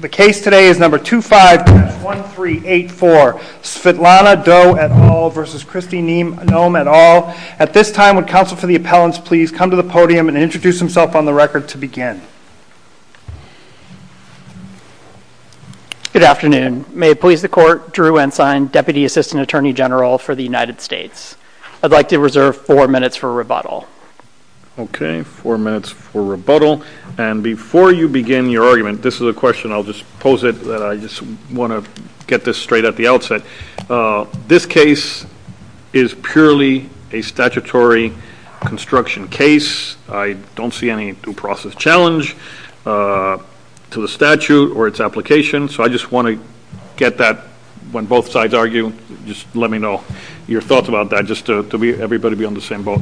The case today is No. 251384, Svetlana Doe et al. v. Christie Noem et al. At this time, would counsel for the appellants please come to the podium and introduce himself on the record to begin? Good afternoon. May it please the court, Drew Ensign, Deputy Assistant Attorney General for the United States. I'd like to reserve four minutes for rebuttal. Okay. Four minutes for rebuttal. And before you begin your argument, this is a question I'll just pose it. I just want to get this straight at the outset. This case is purely a statutory construction case. I don't see any due process challenge to the statute or its application. So I just want to get that when both sides argue, just let me know your thoughts about that just to be everybody be on the same boat.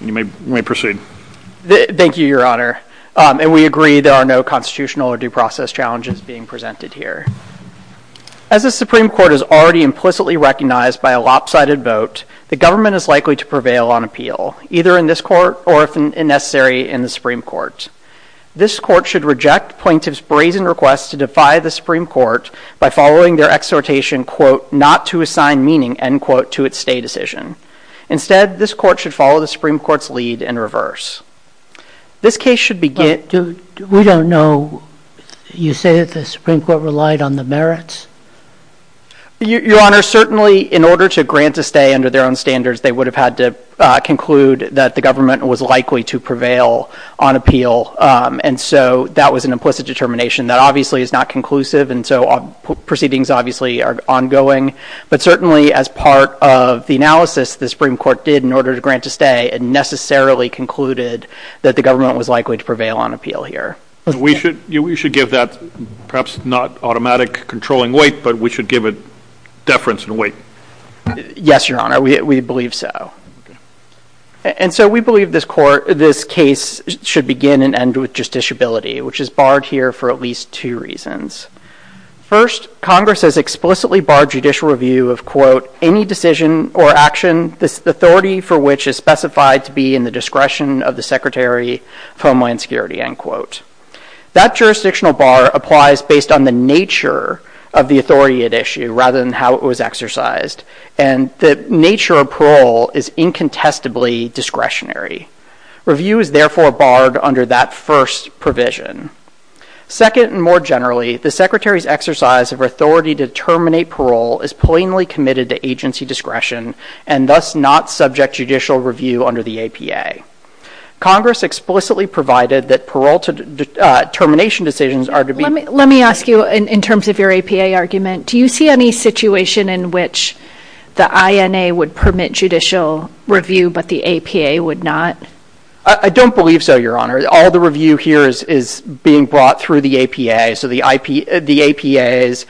You may proceed. Thank you, Your Honor. And we agree there are no constitutional or due process challenges being presented here. As the Supreme Court is already implicitly recognized by a lopsided vote, the government is likely to prevail on appeal, either in this court or if necessary, in the Supreme Court. This court should reject plaintiff's brazen request to defy the Supreme Court by following their exhortation, quote, not to assign meaning, end quote, to its stay decision. Instead, this court should follow the Supreme Court's lead in reverse. This case should be given. We don't know. You say that the Supreme Court relied on the merits? Your Honor, certainly in order to grant a stay under their own standards, they would have had to conclude that the government was likely to prevail on appeal. And so that was an implicit determination that obviously is not conclusive. And so proceedings obviously are ongoing. But certainly as part of the analysis the Supreme Court did in order to grant a stay, it necessarily concluded that the government was likely to prevail on appeal here. We should give that, perhaps not automatic controlling weight, but we should give it deference and weight. Yes, Your Honor, we believe so. And so we believe this case should begin and end with justiciability, which is barred here for at least two reasons. First, Congress has explicitly barred judicial review of, quote, any decision or action, the authority for which is specified to be in the discretion of the Secretary of Homeland Security, end quote. That jurisdictional bar applies based on the nature of the authority at issue rather than how it was exercised. And the nature of parole is incontestably discretionary. Review is therefore barred under that first provision. Second, and more generally, the Secretary's exercise of authority to terminate parole is plainly committed to agency discretion and thus not subject judicial review under the APA. Congress explicitly provided that parole termination decisions are to be... Let me ask you in terms of your APA argument, do you see any situation in which the INA would permit judicial review but the APA would not? I don't believe so, Your Honor. All the review here is being brought through the APA, so the APA's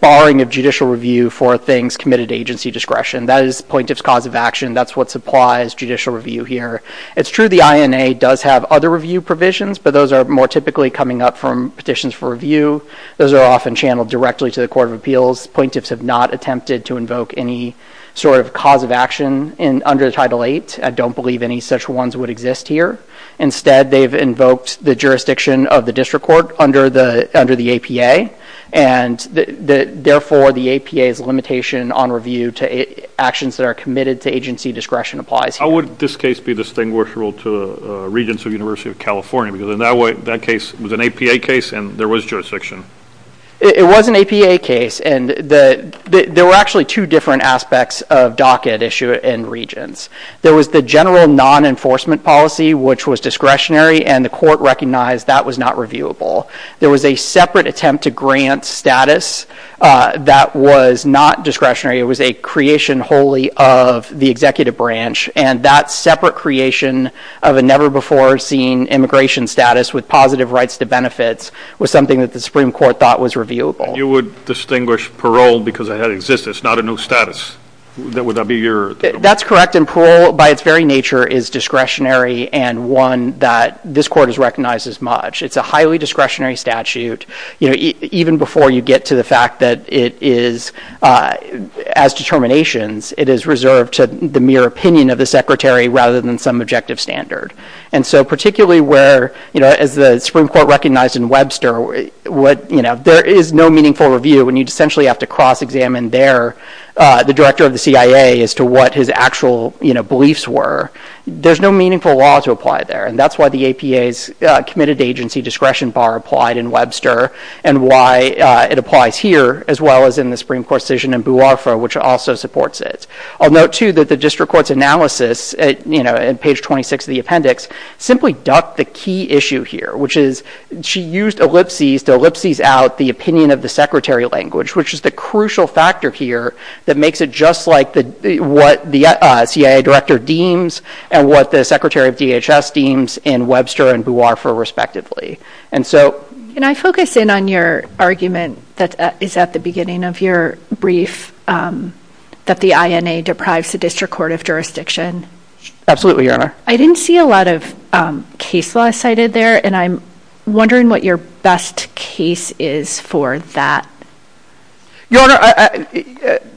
barring of judicial review for things committed to agency discretion. That is the plaintiff's cause of action. That's what supplies judicial review here. It's true the INA does have other review provisions, but those are more typically coming up from petitions for review. Those are often channeled directly to the Court of Appeals. Plaintiffs have not attempted to invoke any sort of cause of action under Title VIII. I don't believe any such ones would exist here. Instead, they've invoked the jurisdiction of the district court under the APA, and therefore the APA's limitation on review to actions that are committed to agency discretion applies. How would this case be distinguishable to regents of the University of California? Because in that case, it was an APA case and there was jurisdiction. It was an APA case, and there were actually two different aspects of docket issue in regents. There was the general non-enforcement policy, which was discretionary, and the court recognized that was not reviewable. There was a separate attempt to grant status that was not discretionary. It was a creation wholly of the executive branch, and that separate creation of a never-before-seen immigration status with positive rights to benefits was something that the Supreme Court thought was reviewable. You would distinguish parole because it had existed. It's not a new status. Would that be your... That's correct. Parole, by its very nature, is discretionary and one that this court has recognized as much. It's a highly discretionary statute. Even before you get to the fact that it is, as determinations, it is reserved to the mere opinion of the secretary rather than some objective standard. Particularly where, as the Supreme Court recognized in Webster, there is no meaningful review when you essentially have to cross-examine there the director of the CIA as to what his actual beliefs were. There's no meaningful law to apply there, and that's why the APA's committed agency discretion bar applied in Webster and why it applies here as well as in the Supreme Court decision in Bualfa, which also supports it. I'll note, too, that the district court's analysis in page 26 of the appendix simply the key issue here, which is she used ellipses to ellipses out the opinion of the secretary language, which is the crucial factor here that makes it just like what the CIA director deems and what the secretary of DHS deems in Webster and Bualfa, respectively. And so... Can I focus in on your argument that is at the beginning of your brief that the INA deprives the district court of jurisdiction? Absolutely, your honor. I didn't see a lot of case law cited there, and I'm wondering what your best case is for that. Your honor,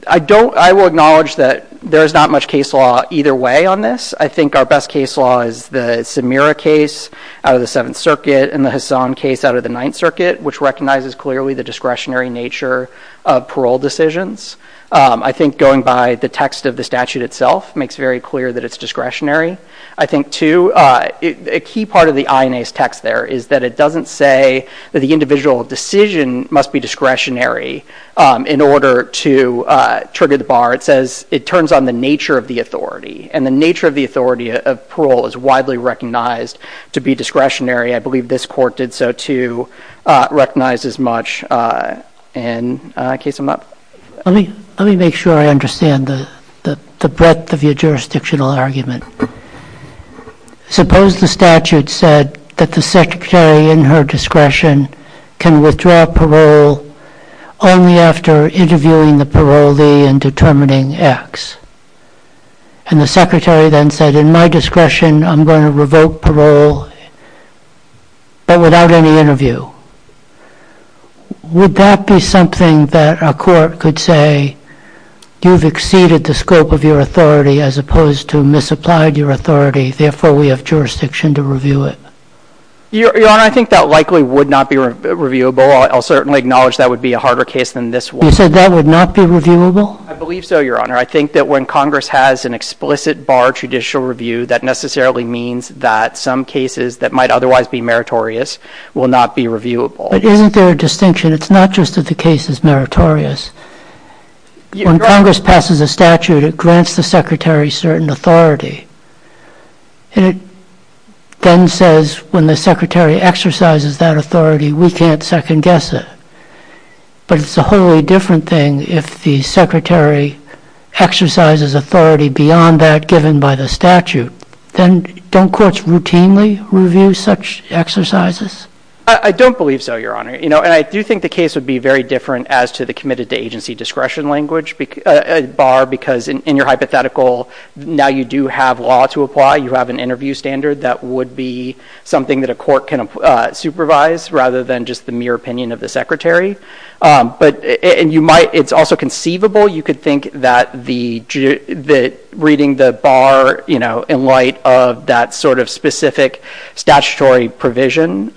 I don't... I will acknowledge that there is not much case law either way on this. I think our best case law is the Samira case out of the Seventh Circuit and the Hassam case out of the Ninth Circuit, which recognizes clearly the discretionary nature of parole decisions. I think going by the text of the statute itself makes very clear that it's discretionary. I think, too, a key part of the INA's text there is that it doesn't say that the individual decision must be discretionary in order to trigger the bar. It says it turns on the nature of the authority, and the nature of the authority of parole is widely recognized to be discretionary. I believe this court did so, too, recognize as much in a case of not... Let me make sure I understand the breadth of your jurisdictional argument. Suppose the statute said that the secretary, in her discretion, can withdraw parole only after interviewing the parolee and determining X, and the secretary then said, in my discretion, I'm going to revoke parole, but without any interview. Would that be something that a court could say, you've exceeded the scope of your authority as opposed to misapplied your authority, therefore we have jurisdiction to review it? Your Honor, I think that likely would not be reviewable. I'll certainly acknowledge that would be a harder case than this one. You said that would not be reviewable? I believe so, Your Honor. I think that when Congress has an explicit bar judicial review, that necessarily means that some cases that might otherwise be meritorious will not be reviewable. But isn't there a distinction? It's not just that the case is meritorious. When Congress passes a statute, it grants the secretary certain authority. It then says, when the secretary exercises that authority, we can't second guess it. But it's a wholly different thing if the secretary exercises authority beyond that given by the statute. Then don't courts routinely review such exercises? I don't believe so, Your Honor. I do think the case would be very different as to the committed to agency discretion bar because in your hypothetical, now you do have law to apply. You have an interview standard that would be something that a court can supervise rather than just the mere opinion of the secretary. It's also conceivable. You could think that reading the bar in light of that specific statutory provision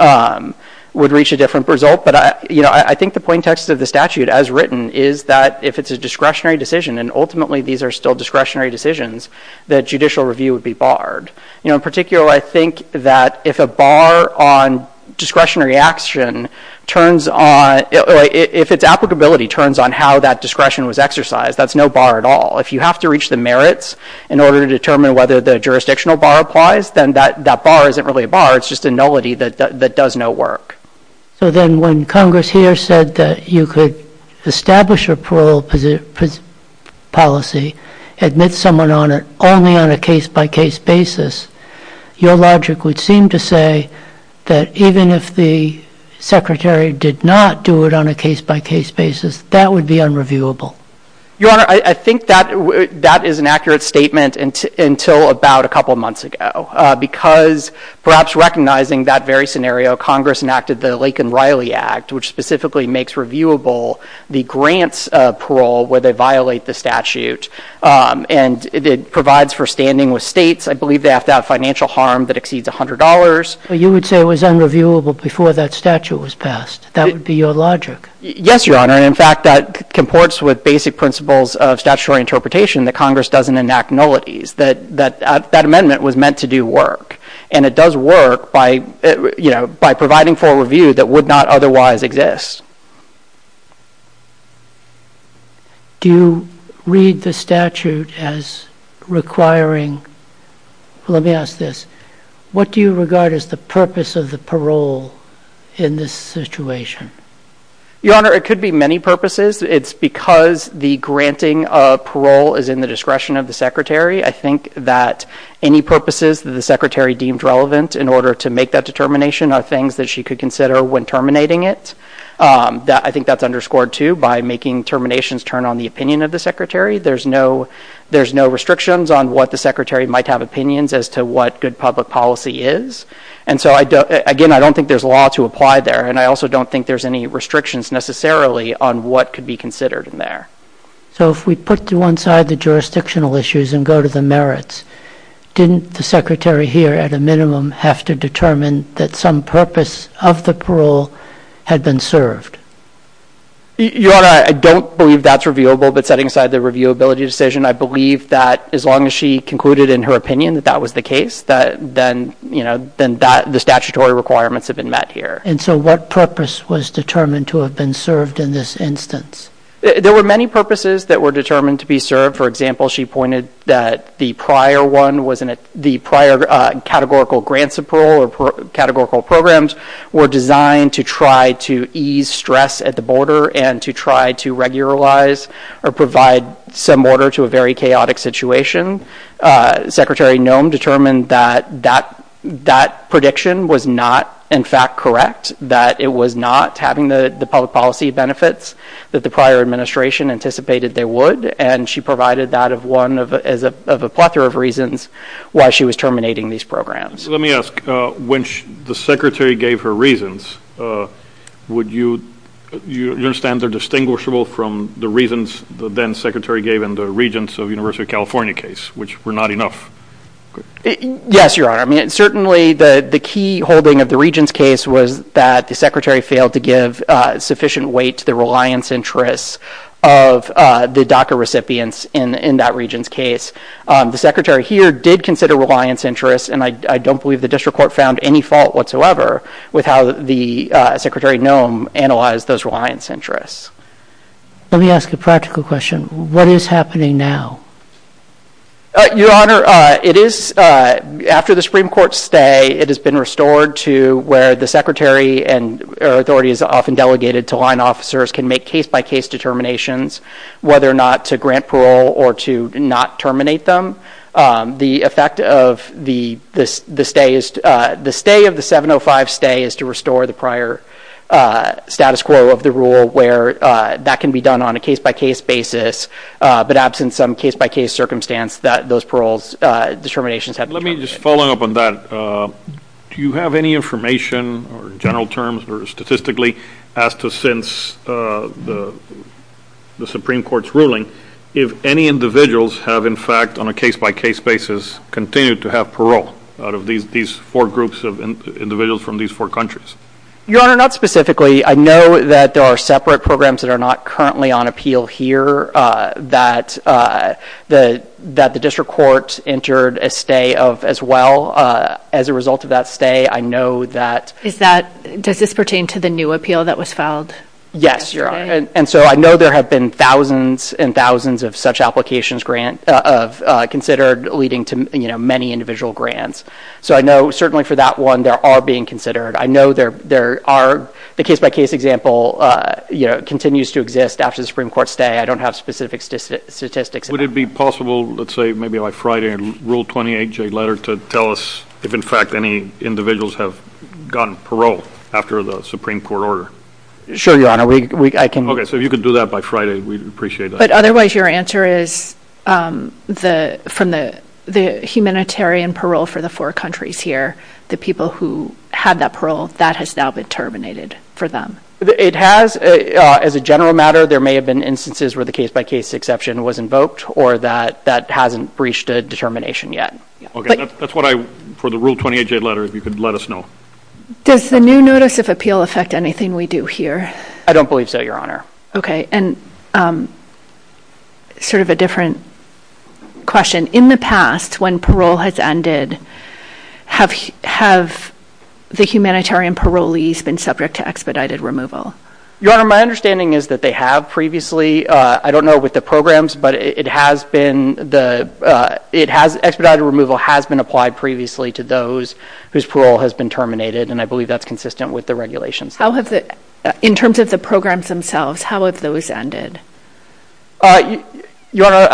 would reach a different result. But I think the point of the statute as written is that if it's a discretionary decision, and ultimately these are still discretionary decisions, that judicial review would be barred. In particular, I think that if a bar on discretionary action turns on, if its applicability turns on how that discretion was exercised, that's no bar at all. If you have to reach the merits in order to determine whether the jurisdictional bar applies, then that bar isn't really a bar. It's just a nullity that does no work. So then when Congress here said that you could establish a parole policy, admit someone only on a case-by-case basis, your logic would seem to say that even if the secretary did not do it on a case-by-case basis, that would be unreviewable. Your Honor, I think that is an accurate statement until about a couple months ago. Because perhaps recognizing that very scenario, Congress enacted the Lake and Riley Act, which specifically makes reviewable the grants parole where they violate the statute. And it provides for standing with states. I believe they have to have financial harm that exceeds $100. You would say it was unreviewable before that statute was passed. That would be your logic. Yes, Your Honor. In fact, that comports with basic principles of statutory interpretation that Congress doesn't enact nullities. That amendment was meant to do work. And it does work by providing for a review that would not otherwise exist. Do you read the statute as requiring – let me ask this. What do you regard as the purpose of the parole in this situation? Your Honor, it could be many purposes. It's because the granting of parole is in the discretion of the secretary. I think that any purposes that the secretary deemed relevant in order to make that determination are things that she could consider when terminating it. I think that's underscored, too, by making terminations turn on the opinion of the secretary. There's no restrictions on what the secretary might have opinions as to what good public policy is. And so, again, I don't think there's law to apply there. And I also don't think there's any restrictions necessarily on what could be considered in there. So, if we put to one side the jurisdictional issues and go to the merits, didn't the secretary here, at a minimum, have to determine that some purpose of the parole had been served? Your Honor, I don't believe that's reviewable. But setting aside the reviewability decision, I believe that as long as she concluded in her opinion that that was the case, then the statutory requirements have been met here. And so, what purpose was determined to have been served in this instance? There were many purposes that were determined to be served. For example, she pointed that the prior categorical grants of parole or categorical programs were designed to try to ease stress at the border and to try to regularize or provide some order to a very chaotic situation. Secretary Nome determined that that prediction was not, in fact, correct, that it was not having the public policy benefits that the prior administration anticipated they would. And she provided that as one of a plethora of reasons why she was terminating these programs. Let me ask, when the secretary gave her reasons, you understand they're distinguishable from the reasons the then secretary gave in the Regents of the University of California case, which were not enough? Yes, Your Honor. I mean, certainly, the key holding of the Regents case was that the secretary failed to give sufficient weight to the reliance interests of the DACA recipients in that Regents case. The secretary here did consider reliance interests, and I don't believe the district court found any fault whatsoever with how the secretary, Nome, analyzed those reliance interests. Let me ask a practical question. What is happening now? Your Honor, it is, after the Supreme Court's stay, it has been restored to where the secretary and authorities often delegated to line officers can make case-by-case determinations whether or not to grant parole or to not terminate them. The effect of the stay of the 705 stay is to restore the prior status quo of the rule where that can be done on a case-by-case basis, but absent some case-by-case circumstance that those parole determinations have to be restored. Let me just follow up on that. Do you have any information or general terms or statistically as to since the Supreme Court's ruling, if any individuals have in fact on a case-by-case basis continued to have parole out of these four groups of individuals from these four countries? Your Honor, not specifically. I know that there are separate programs that are not currently on appeal here that the district court entered a stay of as well. As a result of that stay, I know that... Does this pertain to the new appeal that was filed? Yes, Your Honor. I know there have been thousands and thousands of such applications considered leading to many individual grants. I know certainly for that one, there are being considered. I know there are the case-by-case example continues to exist after the Supreme Court's stay. I don't have specific statistics. Would it be possible, let's say maybe by Friday, in Rule 28J letter to tell us if in fact any individuals have gotten parole after the Supreme Court order? Sure, Your Honor. Okay, so if you could do that by Friday, we'd appreciate that. But otherwise, your answer is from the humanitarian parole for the four countries here, the people who had that parole, that has now been terminated for them? It has. As a general matter, there may have been instances where the case-by-case exception was invoked or that that hasn't breached a determination yet. Okay, that's what I... For the Rule 28J letter, if you could let us know. Does the new notice of appeal affect anything we do here? I don't believe so, Your Honor. Okay, and sort of a different question. In the past, when parole has ended, have the humanitarian parolees been subject to expedited removal? Your Honor, my understanding is that they have previously. I don't know with the programs, but expedited removal has been applied previously to those whose parole has been terminated, and I believe that's consistent with the regulations. How have the... In terms of the programs themselves, how have those ended? Your Honor,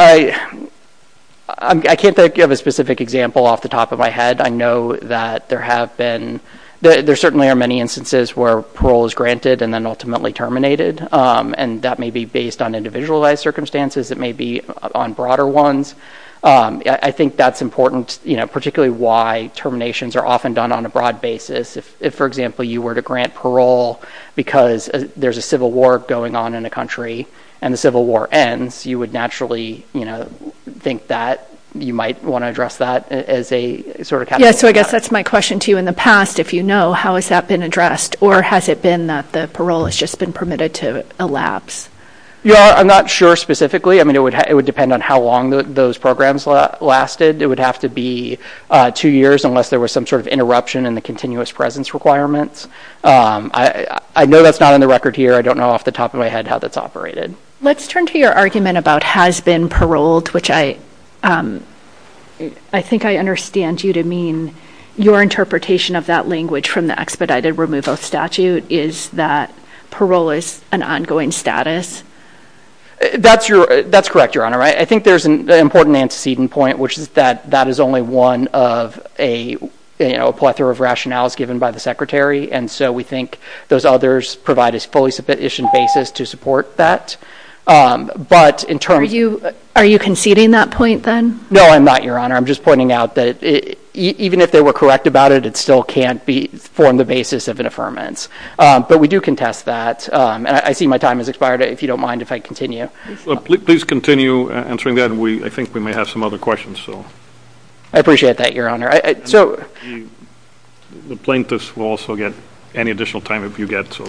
I can't think of a specific example off the top of my head. I know that there have been... There certainly are many instances where parole is granted and then ultimately terminated, and that may be based on individualized circumstances. It may be on broader ones. I think that's important, particularly why terminations are often done on a broad basis. If, for example, you were to grant parole because there's a civil war going on in a country and the civil war ends, you would naturally think that you might want to address that as a sort of... Yeah, so I guess that's my question to you. In the past, if you know, how has that been addressed, or has it been that the parole has just been permitted to elapse? Your Honor, I'm not sure specifically. I mean, it would depend on how long those programs lasted. It would have to be two years unless there was some sort of interruption in the continuous presence requirements. I know that's not on the record here. I don't know off the top of my head how that's operated. Let's turn to your argument about has been paroled, which I think I understand you to mean your interpretation of that language from the expedited removal statute is that parole is an ongoing status. That's correct, Your Honor. I think there's an important antecedent point, which is that that is only one of a plethora of rationales given by the Secretary. And so we think those others provide a fully sufficient basis to support that. But in terms of... Are you conceding that point then? No, I'm not, Your Honor. I'm just pointing out that even if they were correct about it, it still can't form the basis of an affirmance. But we do contest that, and I see my time has expired. If you don't mind, if I continue. Please continue answering that. I think we may have some other questions. I appreciate that, Your Honor. The plaintiffs will also get any additional time that you get, so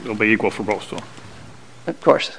it'll be equal for both. Of course.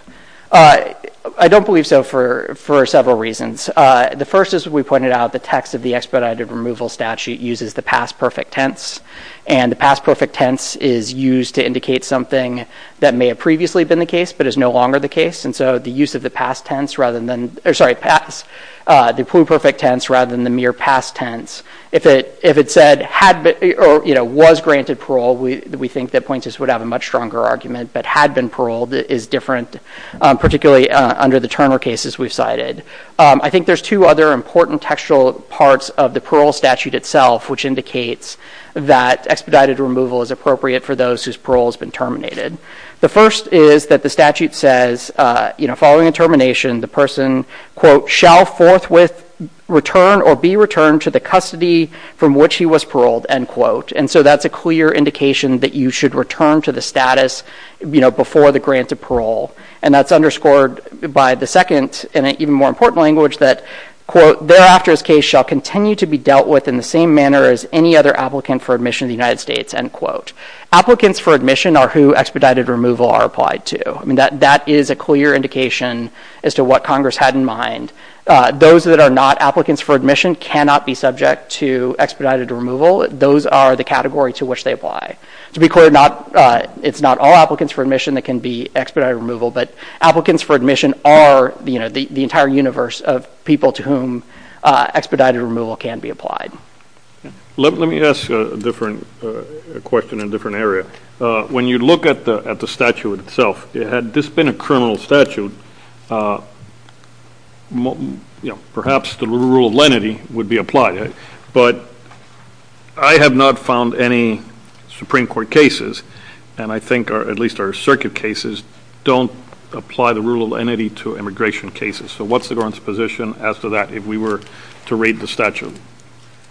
I don't believe so for several reasons. The first is we pointed out the text of the expedited removal statute uses the past perfect tense, and the past perfect tense is used to indicate something that may have previously been the case, but is no longer the case. And so the use of the past tense rather than... Sorry, past. The pre-perfect tense rather than the mere past tense. If it said had been or was granted parole, we think that plaintiffs would have a much stronger argument. But had been paroled is different, particularly under the Turner cases we've cited. I think there's two other important textual parts of the parole statute itself, which indicates that expedited removal is appropriate for those whose parole has been terminated. The first is that the statute says, following a termination, the person, quote, shall forthwith return or be returned to the custody from which he was paroled, end quote. And so that's a clear indication that you should return to the status before the grant of parole. And that's underscored by the second and even more important language that, quote, thereafter his case shall continue to be dealt with in the same manner as any other applicant for admission to the United States, end quote. Applicants for admission are who expedited removal are applied to. That is a clear indication as to what Congress had in mind. Those that are not applicants for admission cannot be subject to expedited removal. Those are the category to which they apply. To be clear, it's not all applicants for admission that can be expedited removal, but applicants for admission are the entire universe of people to whom expedited removal can be applied. Let me ask a different question in a different area. When you look at the statute itself, had this been a criminal statute, perhaps the rule of lenity would be applied, but I have not found any Supreme Court cases, and I think at least our circuit cases, don't apply the rule of lenity to immigration cases. What's the government's position as to that if we were to read the statute?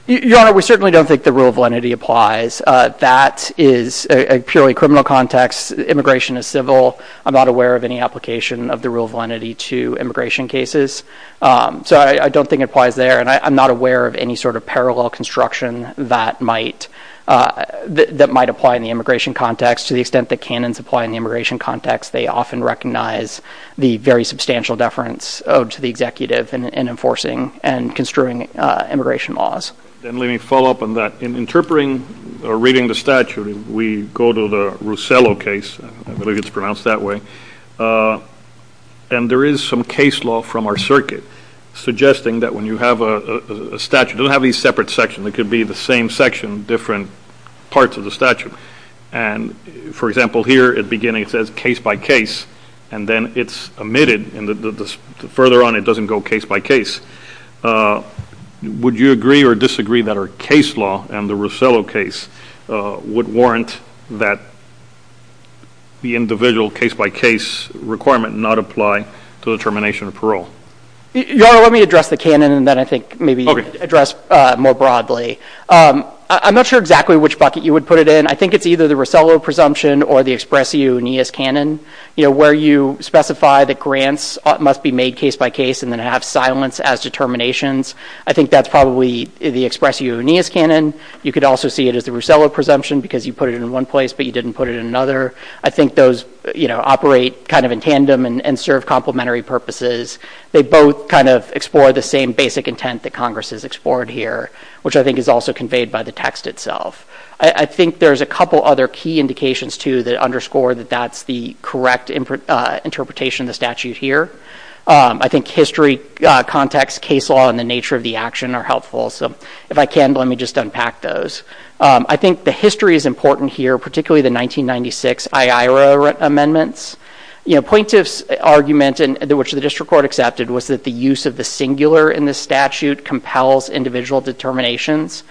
Your Honor, we certainly don't think the rule of lenity applies. That is a purely criminal context. Immigration is civil. I'm not aware of any application of the rule of lenity to immigration cases. I don't think it applies there, and I'm not aware of any sort of parallel construction that might apply in the immigration context. To the extent that canons apply in the immigration context, they often recognize the very substantial deference owed to the executive in enforcing and construing immigration laws. Let me follow up on that. In interpreting or reading the statute, we go to the Russello case, I believe it's pronounced that way, and there is some case law from our circuit suggesting that when you have a statute, it doesn't have these separate sections. It could be the same section, different parts of the statute. For example, here at the beginning it says case by case, and then it's omitted. Further on, it doesn't go case by case. Would you agree or disagree that our case law and the Russello case would warrant that the individual case by case requirement not apply to the termination of parole? Your Honor, let me address the canon, and then I think maybe you can address more broadly. I'm not sure exactly which bucket you would put it in. I think it's either the Russello presumption or the Expresso Unias canon, where you specify that grants must be made case by case and then have silence as determinations. I think that's probably the Expresso Unias canon. You could also see it as the Russello presumption because you put it in one place but you didn't put it in another. I think those operate kind of in tandem and serve complementary purposes. They both kind of explore the same basic intent that Congress has explored here, which I think is also conveyed by the text itself. I think there's a couple other key indications, too, that underscore that that's the correct interpretation of the statute here. I think history, context, case law, and the nature of the action are helpful. So if I can, let me just unpack those. I think the history is important here, particularly the 1996 IAIRA amendments. You know, plaintiff's argument, which the district court accepted, was that the use of the singular in the statute compels individual determinations.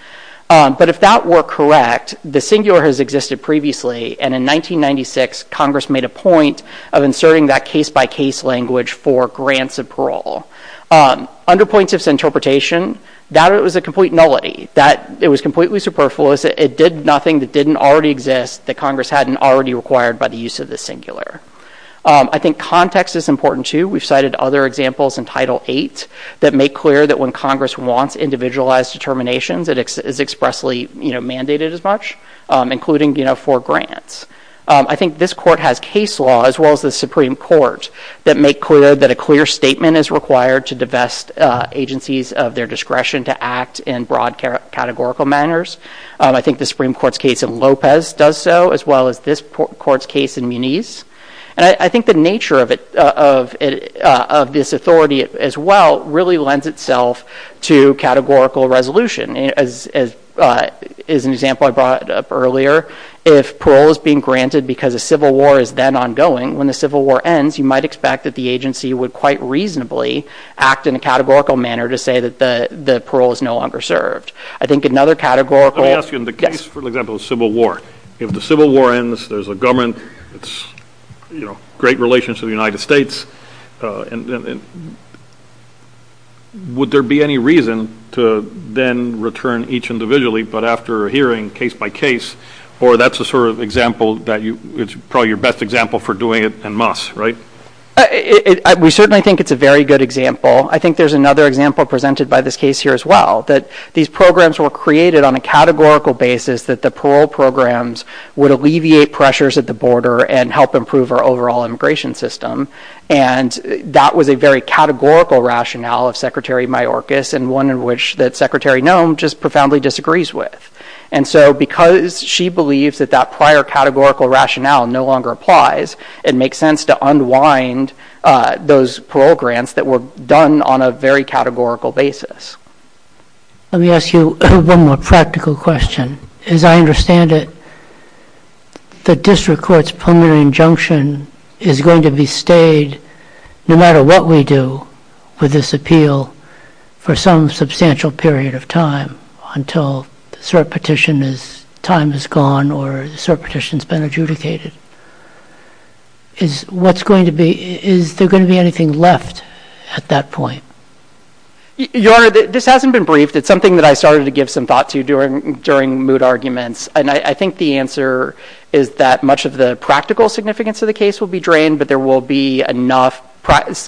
But if that were correct, the singular has existed previously, and in 1996, Congress made a point of inserting that case-by-case language for grants and parole. Under plaintiff's interpretation, that was a complete nullity, that it was completely superfluous, that it did nothing that didn't already exist that Congress hadn't already required by the use of the singular. I think context is important, too. We've cited other examples in Title VIII that make clear that when Congress wants individualized determinations, it is expressly mandated as much, including for grants. I think this court has case law, as well as the Supreme Court, that make clear that a clear statement is required to divest agencies of their discretion to act in broad categorical manners. I think the Supreme Court's case in Lopez does so, as well as this court's case in Muniz. I think the nature of this authority, as well, really lends itself to categorical resolution. As an example I brought up earlier, if parole is being granted because a civil war is then ongoing, when the civil war ends, you might expect that the agency would quite reasonably act in a categorical manner to say that the parole is no longer served. I think another categorical... Let me ask you, in the case, for example, of a civil war, if the civil war ends, there's a government, great relations to the United States, would there be any reason to then return each individually, but after hearing case by case, or that's probably your best example for doing it and must, right? We certainly think it's a very good example. I think there's another example presented by this case here, as well, that these programs were created on a categorical basis that the parole programs would alleviate pressures at the border and help improve our overall immigration system. That was a very categorical rationale of Secretary Mayorkas, and one in which that Secretary Noem just profoundly disagrees with. Because she believes that that prior categorical rationale no longer applies, it makes sense to unwind those parole grants that were done on a very categorical basis. Let me ask you one more practical question. As I understand it, the district court's preliminary injunction is going to be stayed, no matter what we do, for this appeal, for some substantial period of time, until the cert petition is... time is gone, or the cert petition's been adjudicated. What's going to be... Is there going to be anything left at that point? Your Honor, this hasn't been briefed. It's something that I started to give some thought to during moot arguments. I think the answer is that much of the practical significance of the case will be drained, but there will be enough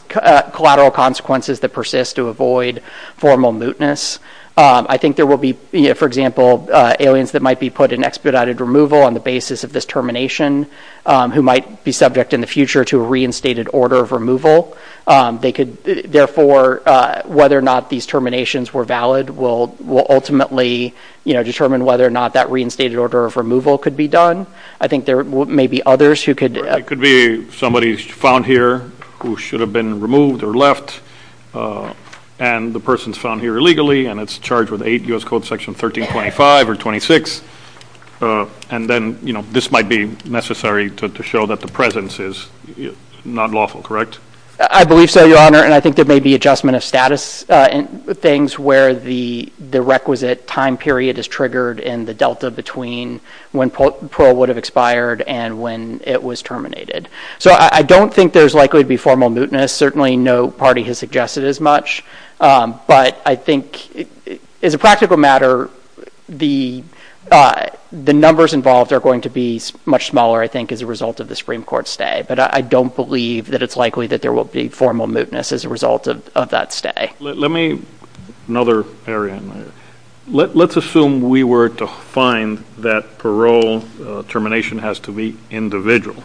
collateral consequences that persist to avoid formal mootness. I think there will be, for example, aliens that might be put in expedited removal on the basis of this termination, who might be subject in the future to a reinstated order of removal. Therefore, whether or not these terminations were valid will ultimately determine whether or not that reinstated order of removal could be done. I think there may be others who could... It could be somebody's found here who should have been removed or left, and the person's found here illegally, and it's charged with 8 U.S. Code Section 1325 or 26, and then this might be necessary to show that the presence is not lawful, correct? I believe so, Your Honor, and I think there may be adjustment of status things where the requisite time period is triggered and the delta between when parole would have expired and when it was terminated. I don't think there's likely to be formal mootness. Certainly no party has suggested as much, but I think as a practical matter, the numbers involved are going to be much smaller, I think, as a result of the Supreme Court stay, but I don't believe that it's likely that there will be formal mootness as a result of that stay. Let me... Another area in there. Let's assume we were to find that parole termination has to be individual.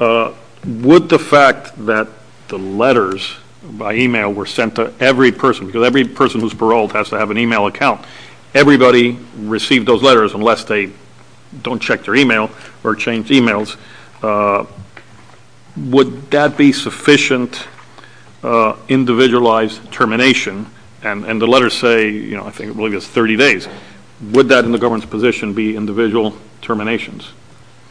Would the fact that the letters by email were sent to every person, because every person who's paroled has to have an email account. Everybody received those letters unless they don't check their email or change emails. Would that be sufficient individualized termination, and the letters say, I think it was 30 days. Would that in the government's position be individual terminations?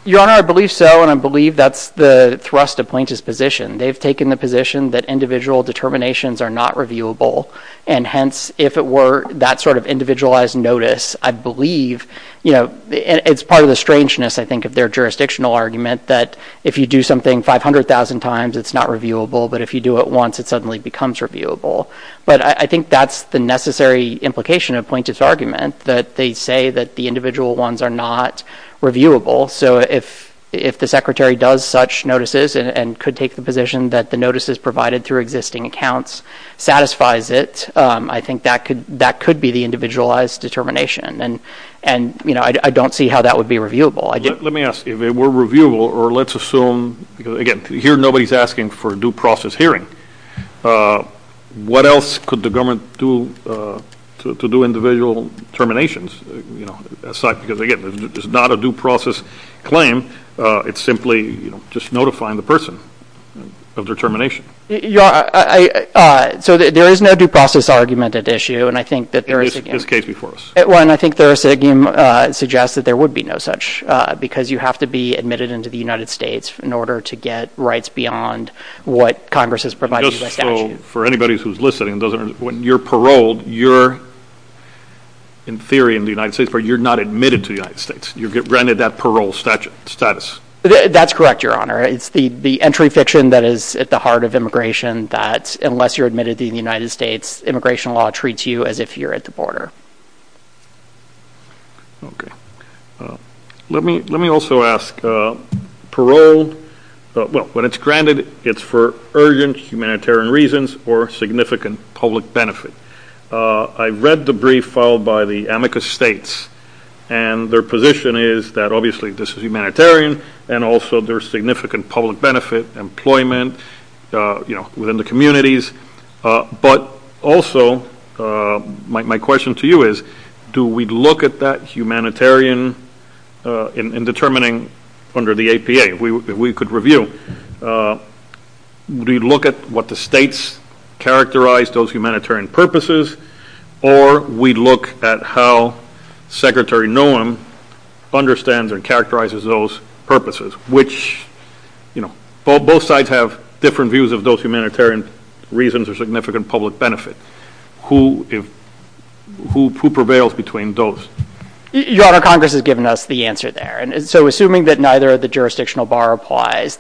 Your Honor, I believe so, and I believe that's the thrust of plaintiff's position. They've taken the position that individual determinations are not reviewable, and hence, if it were that sort of individualized notice, I believe... It's part of the strangeness, I think, of their jurisdictional argument that if you do something 500,000 times, it's not reviewable, but if you do it once, it suddenly becomes reviewable, but I think that's the necessary implication of plaintiff's argument that they say that the individual ones are not reviewable. So if the secretary does such notices and could take the position that the notices provided through existing accounts satisfies it, I think that could be the individualized determination, and I don't see how that would be reviewable. Let me ask you. If it were reviewable, or let's assume... Again, here, nobody's asking for a due process hearing. What else could the government do to do individual terminations, because again, it's not a due process claim. It's simply just notifying the person of their termination. So there is no due process argument at issue, and I think that there is... This case before us. Well, and I think there is... Again, it suggests that there would be no such, because you have to be admitted into the United States in order to get rights beyond what Congress has provided you. Just for anybody who's listening, when you're paroled, you're, in theory, in the United States, but you're not admitted to the United States. You get granted that parole status. That's correct, Your Honor. It's the entry fiction that is at the heart of immigration, that unless you're admitted to the United States, immigration law treats you as if you're at the border. Let me also ask, parole... Well, when it's granted, it's for urgent humanitarian reasons or significant public benefit. I read the brief filed by the Amicus States, and their position is that, obviously, this is humanitarian, and also there's significant public benefit, employment within the communities. But also, my question to you is, do we look at that humanitarian in determining under the APA? If we could review, do we look at what the states characterize those humanitarian purposes, or we look at how Secretary Nuland understands and characterizes those purposes, which... Both sides have different views of those humanitarian reasons or significant public benefit. Who prevails between those? Your Honor, Congress has given us the answer there, so assuming that neither of the jurisdictional bar applies,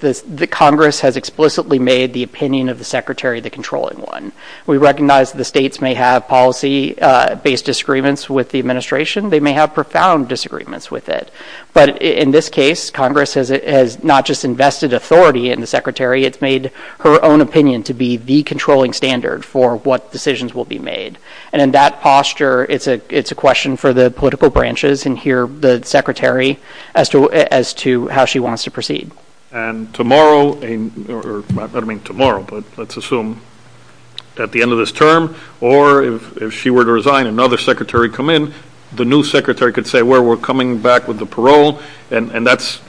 Congress has explicitly made the opinion of the Secretary the controlling one. We recognize that the states may have policy-based disagreements with the administration. They may have profound disagreements with it, but in this case, Congress has not just invested authority in the Secretary, it's made her own opinion to be the controlling standard for what decisions will be made. In that posture, it's a question for the political branches, and here, the Secretary, as to how she wants to proceed. Tomorrow, or I don't mean tomorrow, but let's assume at the end of this term, or if she were to resign and another Secretary come in, the new Secretary could say, we're coming back with the parole, and that's...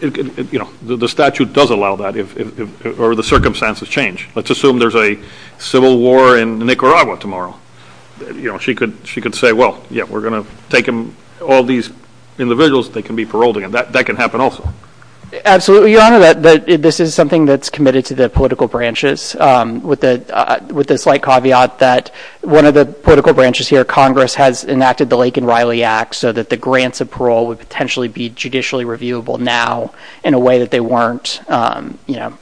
The statute does allow that, or the circumstances change. Let's assume there's a civil war in Nicaragua tomorrow. She could say, well, yeah, we're going to take all these individuals that can be paroled again. That can happen also. Your Honor, this is something that's committed to the political branches, with the slight caveat that one of the political branches here, Congress, has enacted the Lake and Riley Act so that the grants of parole would potentially be judicially reviewable now in a way that they weren't a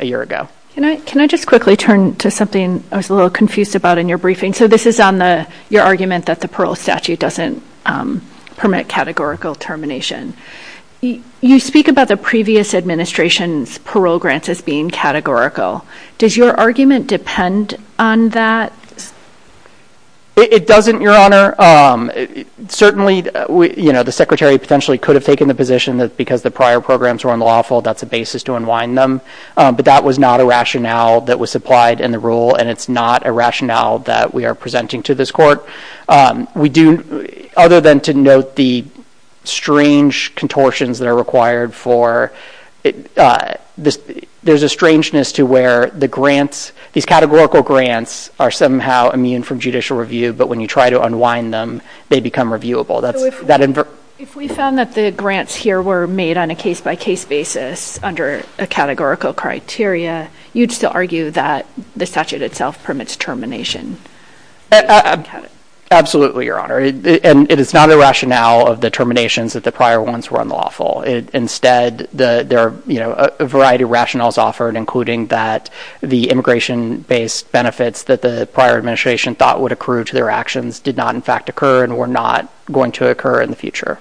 year ago. Can I just quickly turn to something I was a little confused about in your briefing? This is on your argument that the parole statute doesn't permit categorical termination. You speak about the previous administration's parole grants as being categorical. Does your argument depend on that? It doesn't, Your Honor. Certainly, the Secretary potentially could have taken the position that because the prior programs were unlawful, that's a basis to unwind them, but that was not a rationale that was supplied in the rule, and it's not a rationale that we are presenting to this court. We do, other than to note the strange contortions that are required for, there's a strangeness to where the grants, these categorical grants, are somehow immune from judicial review, but when you try to unwind them, they become reviewable. If we found that the grants here were made on a case-by-case basis under a categorical criteria, you'd still argue that the statute itself permits termination. Absolutely, Your Honor. It is not a rationale of the terminations that the prior ones were unlawful. Instead, there are a variety of rationales offered, including that the immigration-based benefits that the prior administration thought would accrue to their actions did not, in fact, occur and were not going to occur in the future.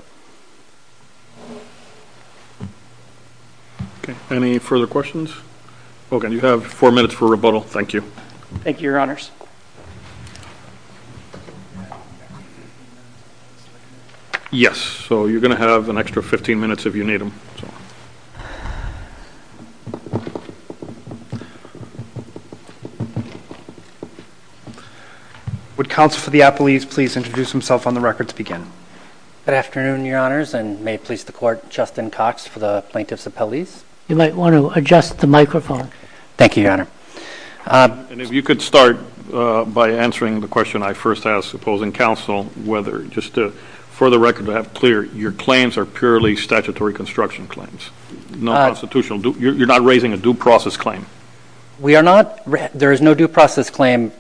Okay. Any further questions? Okay. You have four minutes for rebuttal. Thank you. Thank you, Your Honors. Yes. So, you're going to have an extra 15 minutes if you need them. Would Counsel for the Appellees please introduce himself on the record to begin? Good afternoon, Your Honors, and may it please the Court, Justin Cox for the Plaintiffs' Appellees. You might want to adjust the microphone. Thank you, Your Honor. And if you could start by answering the question I first asked opposing counsel, whether just to, for the record, to have clear, your claims are purely statutory construction claims, no constitutional. You're not raising a due process claim? We are not. There is no due process claim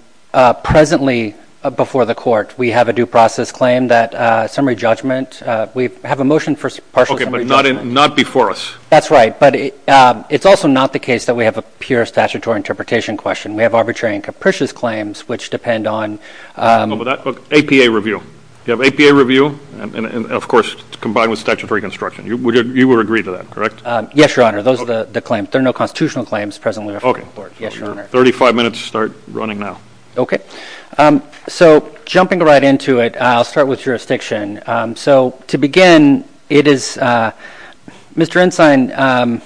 presently before the Court. We have a due process claim that summary judgment. We have a motion for partial... Okay, but not before us. That's right. But it's also not the case that we have a pure statutory interpretation question. We have arbitrary and capricious claims which depend on... APA review. You have APA review and, of course, combined with statutory construction. You would agree to that, correct? Yes, Your Honor. Those are the claims. There are no constitutional claims presently before the Court. Yes, Your Honor. Okay. Thirty-five minutes to start running now. Okay. So jumping right into it, I'll start with jurisdiction. So to begin, it is, Mr. Ensign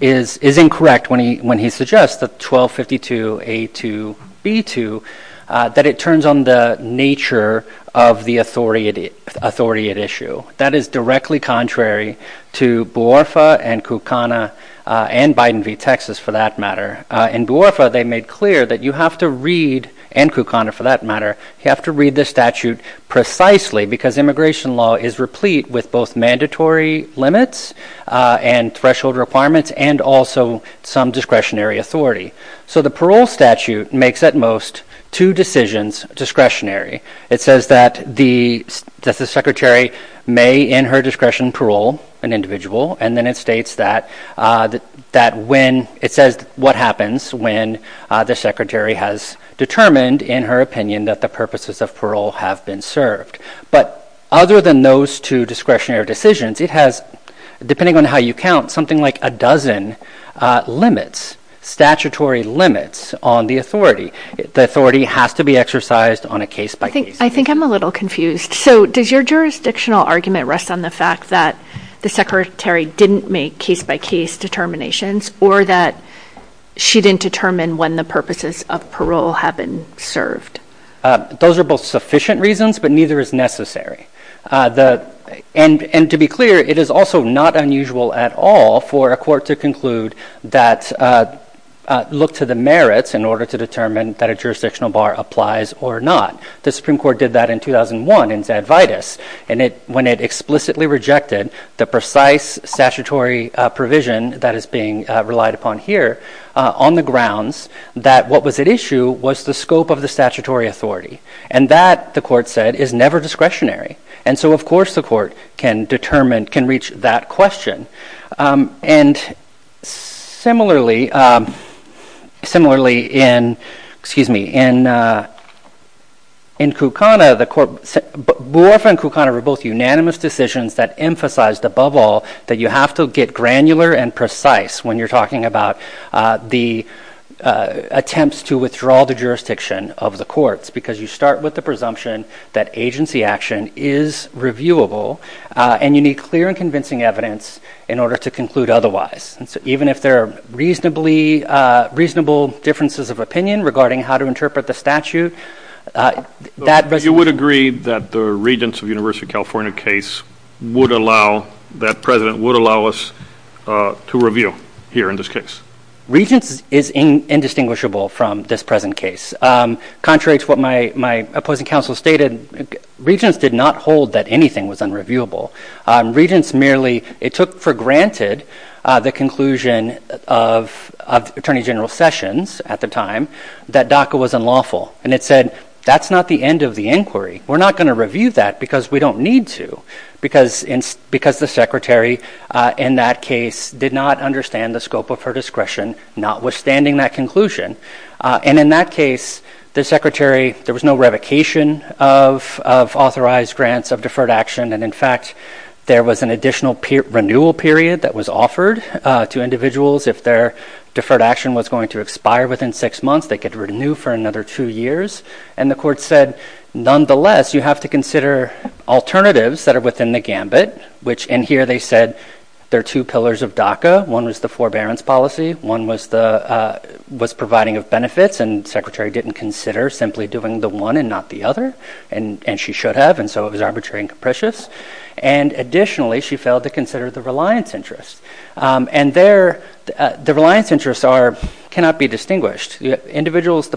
is incorrect when he suggests that 1252A2B2, that it turns on the nature of the authority at issue. That is directly contrary to BOERFA and KUKANA and Biden v. Texas, for that matter. In BOERFA, they made clear that you have to read, and KUKANA for that matter, you have to read the statute precisely because immigration law is replete with both mandatory limits and threshold requirements and also some discretionary authority. So the parole statute makes, at most, two decisions discretionary. It says that the Justice Secretary may, in her discretion, parole an individual. And then it states that when, it says what happens when the Secretary has determined, in her opinion, that the purposes of parole have been served. But other than those two discretionary decisions, it has, depending on how you count, something like a dozen limits, statutory limits on the authority. The authority has to be exercised on a case-by-case. I think I'm a little confused. So does your jurisdictional argument rest on the fact that the Secretary didn't make case-by-case determinations or that she didn't determine when the purposes of parole have been served? Those are both sufficient reasons, but neither is necessary. And to be clear, it is also not unusual at all for a court to conclude that, look to the merits in order to determine that a jurisdictional bar applies or not. The Supreme Court did that in 2001 in Zadvitus when it explicitly rejected the precise statutory provision that is being relied upon here on the grounds that what was at issue was the scope of the statutory authority. And that, the court said, is never discretionary. And so, of course, the court can determine, can reach that question. And similarly, similarly in, excuse me, in Kukana, the court, Borfa and Kukana were both unanimous decisions that emphasized above all that you have to get granular and precise when you're talking about the attempts to withdraw the jurisdiction of the courts because you start with the presumption that agency action is reviewable and you need clear and convincing evidence in order to conclude otherwise. Even if there are reasonably, reasonable differences of opinion regarding how to interpret the statute, that... You would agree that the Regents of University of California case would allow, that President would allow us to review here in this case? Regents is indistinguishable from this present case. Contrary to what my opposing counsel stated, Regents did not hold that anything was unreviewable. Regents merely, it took for granted the conclusion of Attorney General Sessions at the time that DACA was unlawful. And it said, that's not the end of the inquiry. We're not going to review that because we don't need to. Because the secretary in that case did not understand the scope of her discretion not withstanding that conclusion. And in that case, the secretary, there was no revocation of authorized grants of deferred action. And in fact, there was an additional renewal period that was offered to individuals. If their deferred action was going to expire within six months, they could renew for another two years. And the court said, nonetheless, you have to consider alternatives that are within the gambit, which in here they said, there are two pillars of DACA. One is the forbearance policy. One was the, was providing of benefits and secretary didn't consider simply doing the one and not the other. And she should have. And so it was arbitrary and capricious. And additionally, she failed to consider the reliance interests. And there, the reliance interests are, cannot be distinguished. Individuals,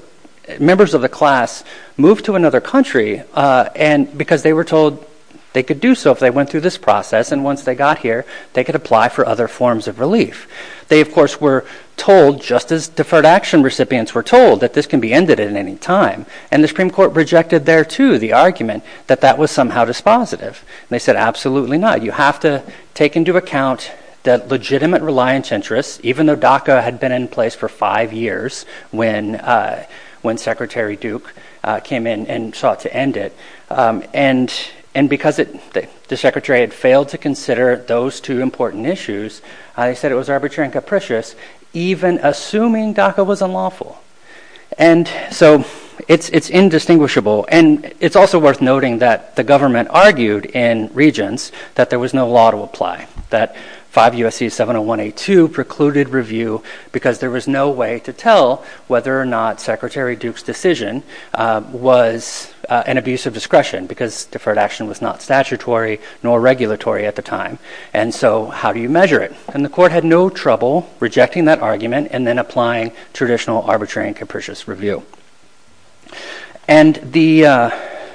members of the class moved to another country and because they were told they could do so if they went through this process. And once they got here, they could apply for other forms of relief. They, of course, were told just as deferred action recipients were told that this can be ended at any time. And the Supreme Court rejected there to the argument that that was somehow dispositive. And they said, absolutely not. You have to take into account that legitimate reliance interests, even though DACA had been in place for five years when when secretary Duke came in and sought to end it. And because the secretary had failed to consider those two important issues, I said it was arbitrary and capricious, even assuming DACA was unlawful. And so it's indistinguishable. And it's also worth noting that the government argued in Regents that there was no law to apply, that 5 U.S.C. 70182 precluded review because there was no way to tell whether or not Secretary Duke's decision was an abuse of discretion because deferred action was not statutory nor regulatory at the time. And so how do you measure it? And the court had no trouble rejecting that argument and then applying traditional arbitrary and capricious review. And the I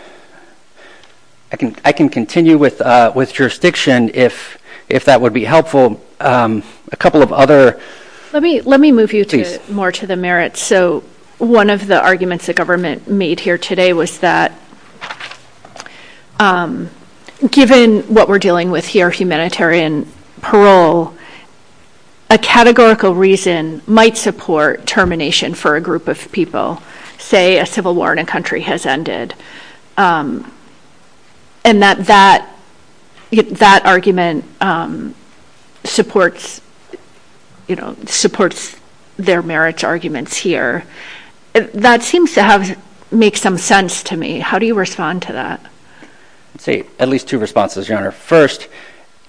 can I can continue with with jurisdiction if if that would be helpful. A couple of other. Let me let me move you to more to the merits. So one of the arguments the government made here today was that given what we're dealing with here, humanitarian parole, a categorical reason might support termination for a group of people, say a civil war in a country has ended. And that that that argument supports, you know, supports their merits arguments here. That seems to have made some sense to me. How do you respond to that? At least two responses, your honor. First,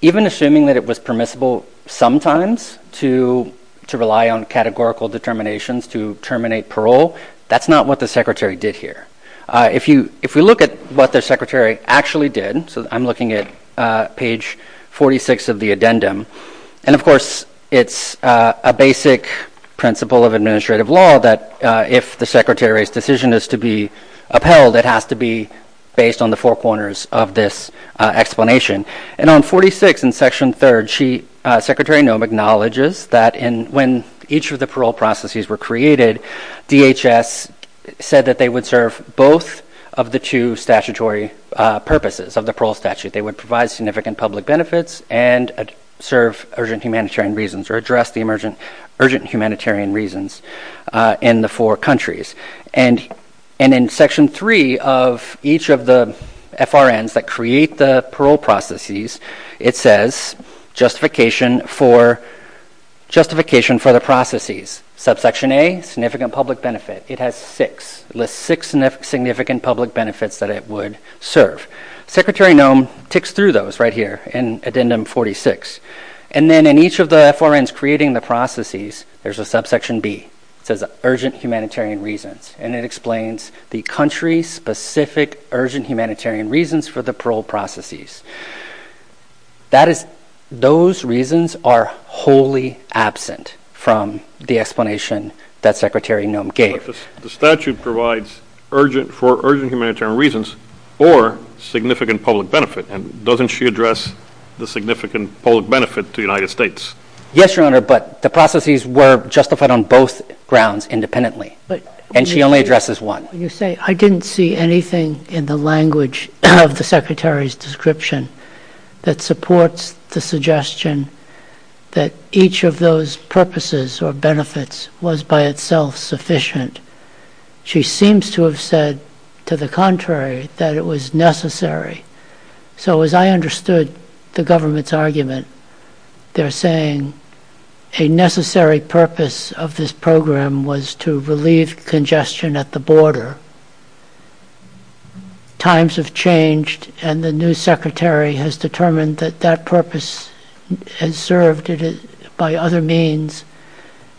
even assuming that it was permissible sometimes to to rely on categorical determinations to terminate parole. That's not what the secretary did here. If you if we look at what the secretary actually did. So I'm looking at page 46 of the addendum. And of course, it's a basic principle of administrative law that if the secretary's decision is to be upheld, it has to be based on the four corners of this explanation. And on 46 in Section 3rd, she secretary acknowledges that in when each of the parole processes were created, DHS said that they would serve both of the two statutory purposes of the parole statute. They would provide significant public benefits and serve urgent humanitarian reasons or address the emergent urgent humanitarian reasons in the four countries. And and in Section 3 of each of the FRNs that create the parole processes, it says justification for justification for the processes. Subsection A, significant public benefit. It has six, six significant public benefits that it would serve. Secretary Noem ticks through those right here in addendum 46. And then in each of the FRNs creating the processes, there's a subsection B. So the urgent humanitarian reasons and it explains the country's specific urgent humanitarian reasons for the parole processes. That is those reasons are wholly absent from the explanation that Secretary Noem gave. The statute provides urgent for urgent humanitarian reasons or significant public benefit. And doesn't she address the significant public benefit to the United States? Yes, Your Honor, but the processes were justified on both grounds independently, and she only addresses one. You say I didn't see anything in the language of the secretary's description that supports the suggestion that each of those purposes or benefits was by itself sufficient. She seems to have said to the contrary that it was necessary. So as I understood the government's argument, they're saying a necessary purpose of this program was to relieve congestion at the border. Times have changed and the new secretary has determined that that purpose is served by other means,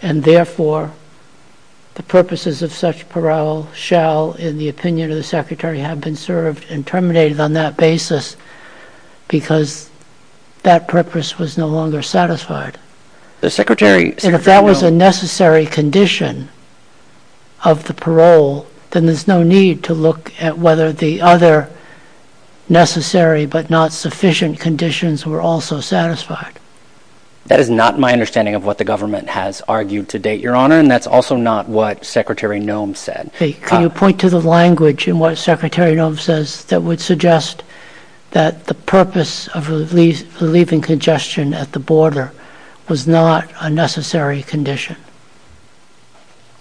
and therefore the purposes of such parole shall, in the opinion of the government, be assessed on that basis because that purpose was no longer satisfied. The secretary said if that was a necessary condition of the parole, then there's no need to look at whether the other necessary but not sufficient conditions were also satisfied. That is not my understanding of what the government has argued to date, Your Honor, and that's also not what Secretary Noem said. Can you point to the language in what Secretary Noem says that would suggest that the purpose of relieving congestion at the border was not a necessary condition?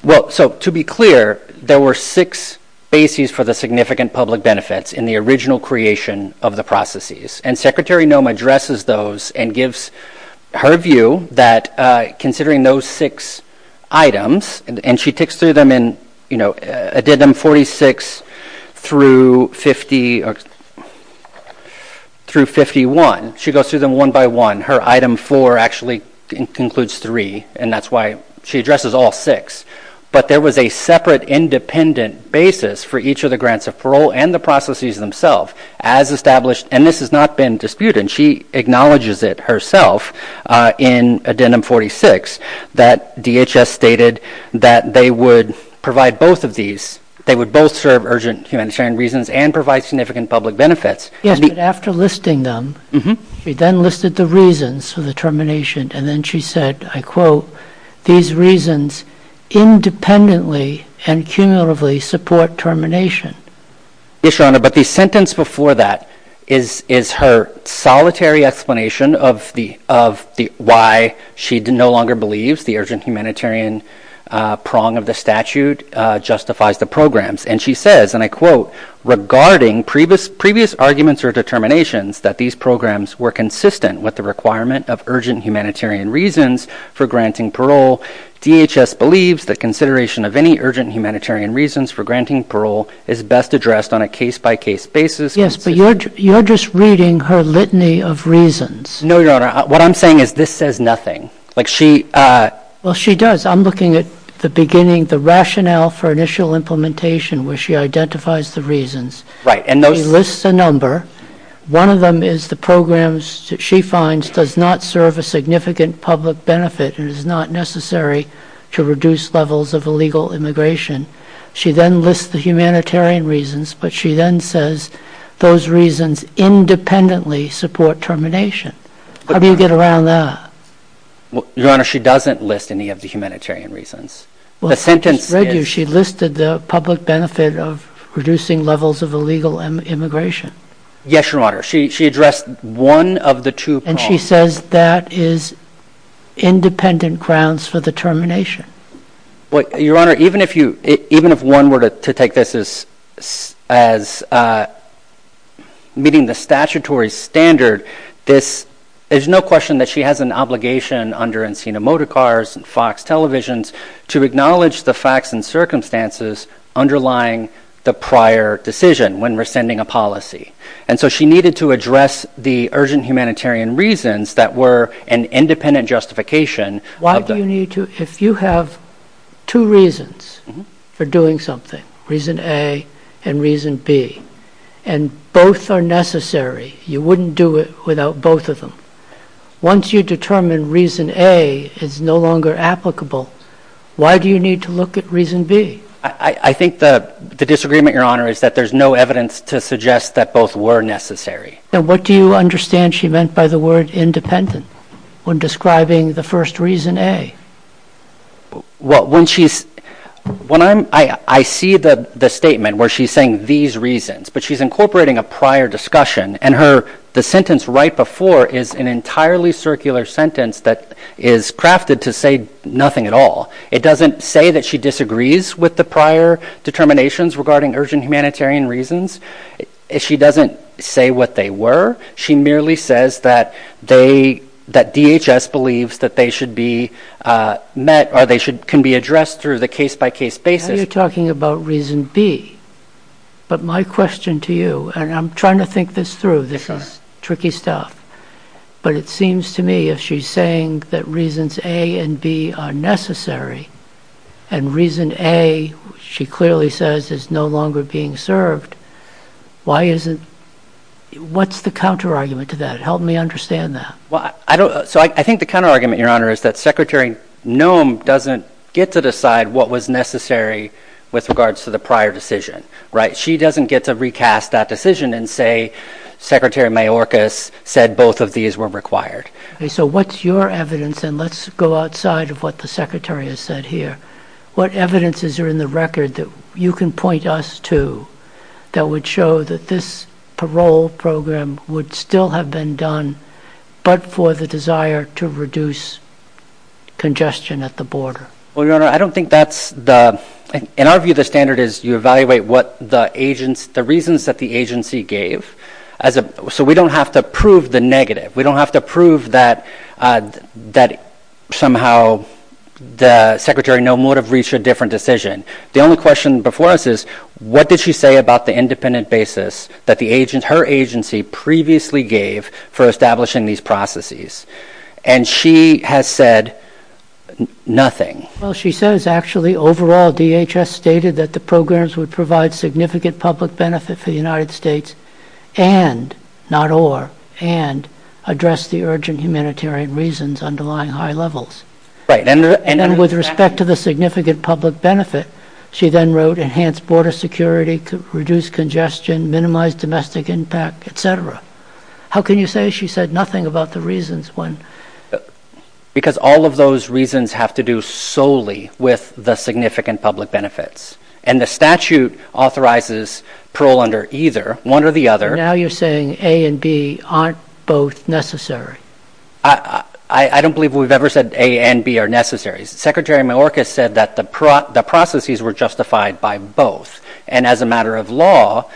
Well, so to be clear, there were six bases for the significant public benefits in the original creation of the processes, and Secretary Noem addresses those and gives her view that considering those six items, and she ticks through them in Addendum 46-51. She goes through them one by one. Her Item 4 actually includes three, and that's why she addresses all six, but there was a separate independent basis for each of the grants of parole and the processes themselves as established, and this has not been disputed. She acknowledges it herself in Addendum 46 that DHS stated that they would provide both of these. They would both serve urgent human sharing reasons and provide significant public benefits. Yes, but after listing them, she then listed the reasons for the termination, and then she said, I quote, these reasons independently and cumulatively support termination. Yes, Your Honor, but the sentence before that is her solitary explanation of why she no longer believes the urgent humanitarian prong of the statute justifies the programs, and she says, and I quote, regarding previous arguments or determinations that these programs were consistent with the requirement of urgent humanitarian reasons for granting parole, DHS believes that consideration of any urgent humanitarian reasons for granting parole is best addressed on a case-by-case basis. Yes, but you're just reading her litany of reasons. No, Your Honor. What I'm saying is this says nothing. Well, she does. I'm looking at the beginning, the rationale for initial implementation where she identifies the reasons. She lists a number. One of them is the programs that she finds does not serve a significant public benefit and is not necessary to reduce levels of illegal immigration. She then lists the humanitarian reasons, but she then says those reasons independently support termination. How do you get around that? Well, Your Honor, she doesn't list any of the humanitarian reasons. Well, she did. She listed the public benefit of reducing levels of illegal immigration. Yes, Your Honor. She addressed one of the two prongs. And she says that is independent grounds for the termination. Your Honor, even if one were to take this as meeting the statutory standard, there's no question that she has an obligation under Encina Motorcars and Fox Televisions to acknowledge the facts and circumstances underlying the prior decision when we're sending a policy. And so she needed to address the urgent humanitarian reasons that were an independent justification. If you have two reasons for doing something, reason A and reason B, and both are necessary, you wouldn't do it without both of them. Once you determine reason A is no longer applicable, why do you need to look at reason B? I think the disagreement, Your Honor, is that there's no evidence to suggest that both were necessary. What do you understand she meant by the word independent when describing the first reason A? I see the statement where she's saying these reasons, but she's incorporating a prior discussion. And the sentence right before is an entirely circular sentence that is crafted to say nothing at all. It doesn't say that she disagrees with the prior determinations regarding urgent humanitarian reasons. She doesn't say what they were. She merely says that DHS believes that they should be met or they can be addressed through the case-by-case basis. Now you're talking about reason B. But my question to you, and I'm trying to think this through, this is tricky stuff. But it seems to me if she's saying that reasons A and B are necessary and reason A, she clearly says, is no longer being served, what's the counter-argument to that? Help me understand that. I think the counter-argument, Your Honor, is that Secretary Noem doesn't get to decide what was necessary with regards to the prior decision. She doesn't get to recast that decision and say Secretary Mayorkas said both of these were required. So what's your evidence, and let's go outside of what the Secretary has said here. What evidence is there in the record that you can point us to that would show that this parole program would still have been done but for the desire to reduce congestion at the border? Well, Your Honor, I don't think that's the – in our view, the standard is you evaluate what the reasons that the agency gave. So we don't have to prove the negative. We don't have to prove that somehow the Secretary Noem would have reached a different decision. The only question before us is what did she say about the independent basis that her agency previously gave for establishing these processes? And she has said nothing. Well, she says actually overall DHS stated that the programs would provide significant public benefit for the United States and, not or, and address the urgent humanitarian reasons underlying high levels. And with respect to the significant public benefit, she then wrote enhance border security, reduce congestion, minimize domestic impact, et cetera. How can you say she said nothing about the reasons when – Because all of those reasons have to do solely with the significant public benefits. And the statute authorizes parole under either, one or the other. Now you're saying A and B aren't both necessary. I don't believe we've ever said A and B are necessary. Secretary Menorca said that the processes were justified by both. And as a matter of law,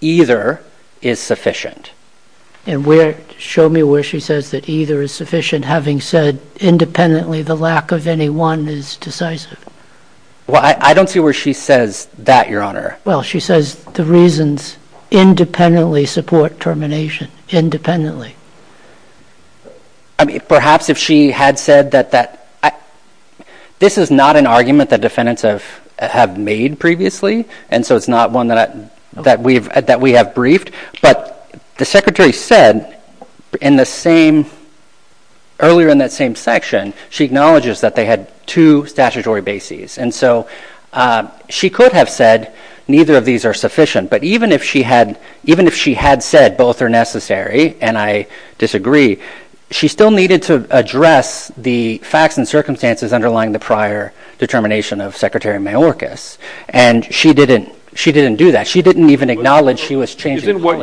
either is sufficient. And where – show me where she says that either is sufficient, having said independently the lack of any one is decisive. Well, I don't see where she says that, Your Honor. Well, she says the reasons independently support termination, independently. I mean, perhaps if she had said that that – this is not an argument that defendants have made previously, and so it's not one that we've – that we have briefed. But the Secretary said in the same – earlier in that same section, she acknowledges that they had two statutory bases. And so she could have said neither of these are sufficient. But even if she had – even if she had said both are necessary, and I disagree, she still needed to address the facts and circumstances underlying the prior determination of Secretary Menorca. And she didn't – she didn't do that. She didn't even acknowledge she was changing the court.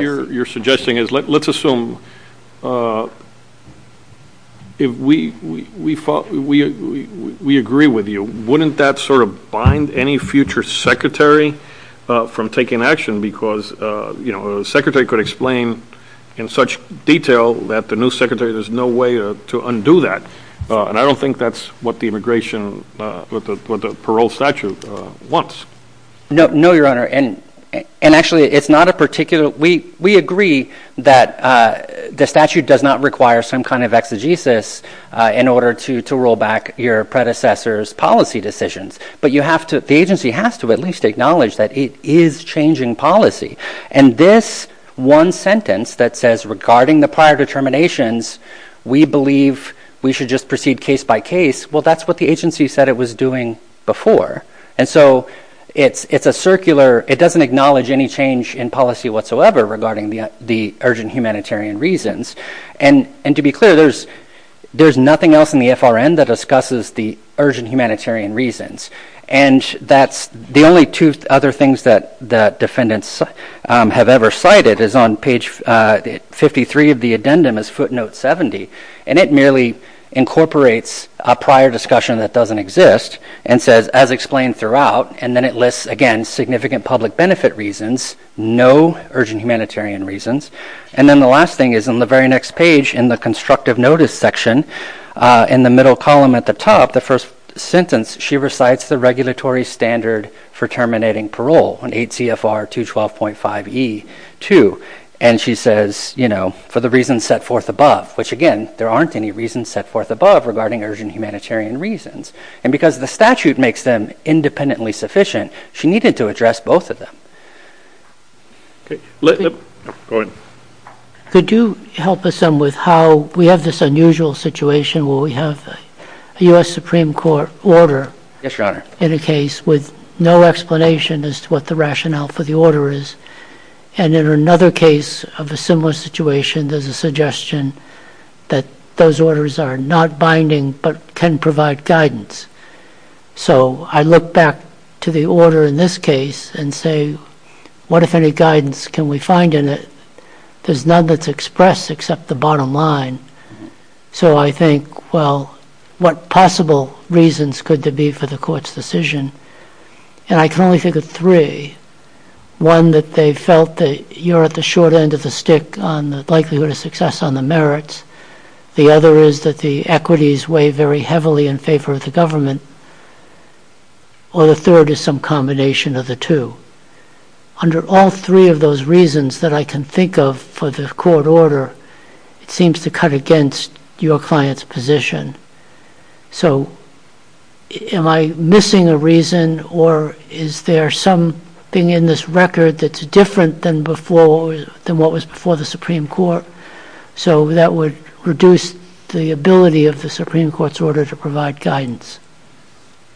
Let's assume we agree with you. Wouldn't that sort of bind any future Secretary from taking action? Because the Secretary could explain in such detail that the new Secretary, there's no way to undo that. And I don't think that's what the immigration – what the parole statute wants. No, Your Honor. And actually, it's not a particular – we agree that the statute does not require some kind of exegesis in order to roll back your predecessor's policy decisions. But you have to – the agency has to at least acknowledge that it is changing policy. And this one sentence that says regarding the prior determinations, we believe we should just proceed case by case, well, that's what the agency said it was doing before. And so it's a circular – it doesn't acknowledge any change in policy whatsoever regarding the urgent humanitarian reasons. And to be clear, there's nothing else in the FRN that discusses the urgent humanitarian reasons. And that's the only two other things that defendants have ever cited is on page 53 of the addendum is footnote 70, and it merely incorporates a prior discussion that doesn't exist and says, as explained throughout, and then it lists, again, significant public benefit reasons, no urgent humanitarian reasons. And then the last thing is on the very next page in the constructive notice section, in the middle column at the top, the first sentence, she recites the regulatory standard for terminating parole on 8 CFR 212.5E2, and she says, for the reasons set forth above, which again, there aren't any reasons set forth above regarding urgent humanitarian reasons. And because the statute makes them independently sufficient, she needed to address both of them. Okay. Go ahead. Could you help us on with how we have this unusual situation where we have the U.S. Supreme Court order in a case with no explanation as to what the rationale for the order is, and in another case of a similar situation, there's a suggestion that those orders are not binding but can provide guidance. So I look back to the order in this case and say, what, if any, guidance can we find in it? There's none that's expressed except the bottom line. So I think, well, what possible reasons could there be for the court's decision? And I can only think of three. One, that they felt that you're at the short end of the stick on the likelihood of success on the merits. The other is that the equities weigh very heavily in favor of the government. Or the third is some combination of the two. Under all three of those reasons that I can think of for the court order, it seems to cut against your client's position. So am I missing a reason, or is there something in this record that's different than what was before the Supreme Court? So that would reduce the ability of the Supreme Court's order to provide guidance.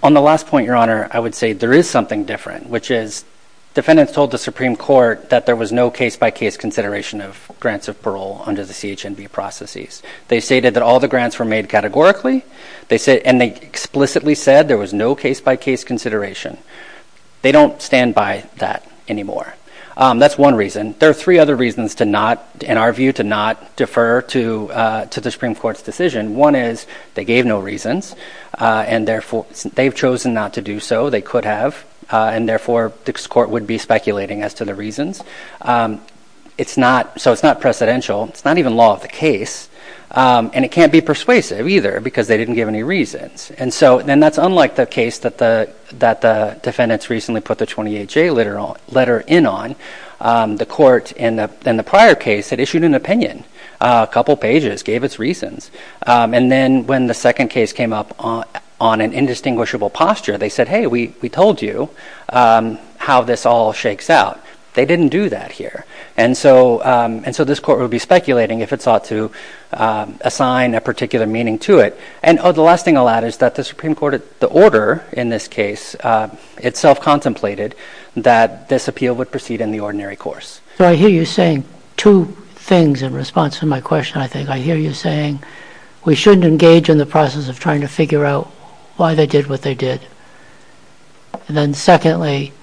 On the last point, Your Honor, I would say there is something different, which is defendants told the Supreme Court that there was no case-by-case consideration of grants of parole under the CHNB processes. They stated that all the grants were made categorically, and they explicitly said there was no case-by-case consideration. They don't stand by that anymore. That's one reason. There are three other reasons to not, in our view, to not defer to the Supreme Court's One is they gave no reasons, and therefore they've chosen not to do so. They could have, and therefore this court would be speculating as to the reasons. So it's not precedential. It's not even law of the case, and it can't be persuasive either because they didn't give any reasons. Then that's unlike the case that the defendants recently put the 28-J letter in on. The court in the prior case had issued an opinion, a couple pages, gave its reasons, and then when the second case came up on an indistinguishable posture, they said, hey, we told you how this all shakes out. They didn't do that here, and so this court would be speculating if it sought to assign a particular meaning to it, and the last thing I'll add is that the Supreme Court, the order in this case, it self-contemplated that this appeal would proceed in the ordinary course. So I hear you saying two things in response to my question, I think. I hear you saying we shouldn't engage in the process of trying to figure out why they did what they did, and then secondly,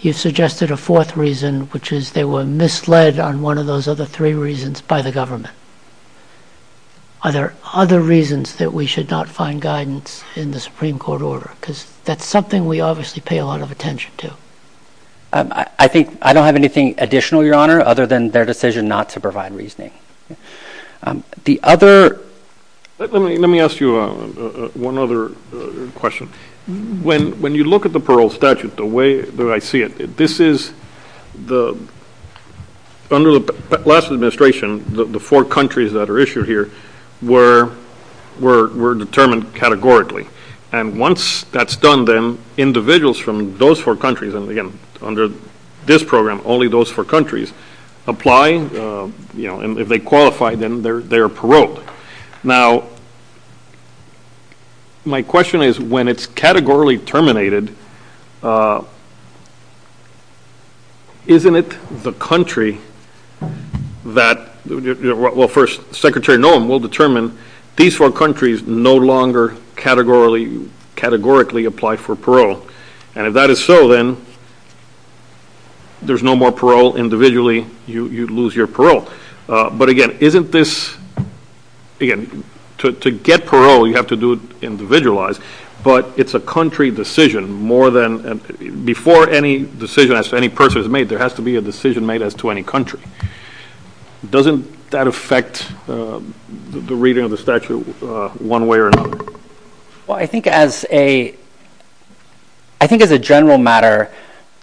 you suggested a fourth reason, which is they were misled on one of those other three reasons by the government. Are there other reasons that we should not find guidance in the Supreme Court order? That's something we obviously pay a lot of attention to. I think I don't have anything additional, Your Honor, other than their decision not to provide reasoning. Let me ask you one other question. When you look at the parole statute, the way that I see it, under the last administration, the four countries that are issued here were determined categorically, and once that's done, then individuals from those four countries, and again, under this program, only those four countries, apply, and if they qualify, then they're paroled. Now, my question is, when it's categorically terminated, isn't it the country that, well, Secretary Nuland will determine these four countries no longer categorically apply for parole, and if that is so, then there's no more parole. Individually, you lose your parole, but again, to get parole, you have to do it individualized, but it's a country decision. Before any decision as to any person is made, there has to be a decision made as to any country. Doesn't that affect the reading of the statute one way or another? Well, I think as a general matter,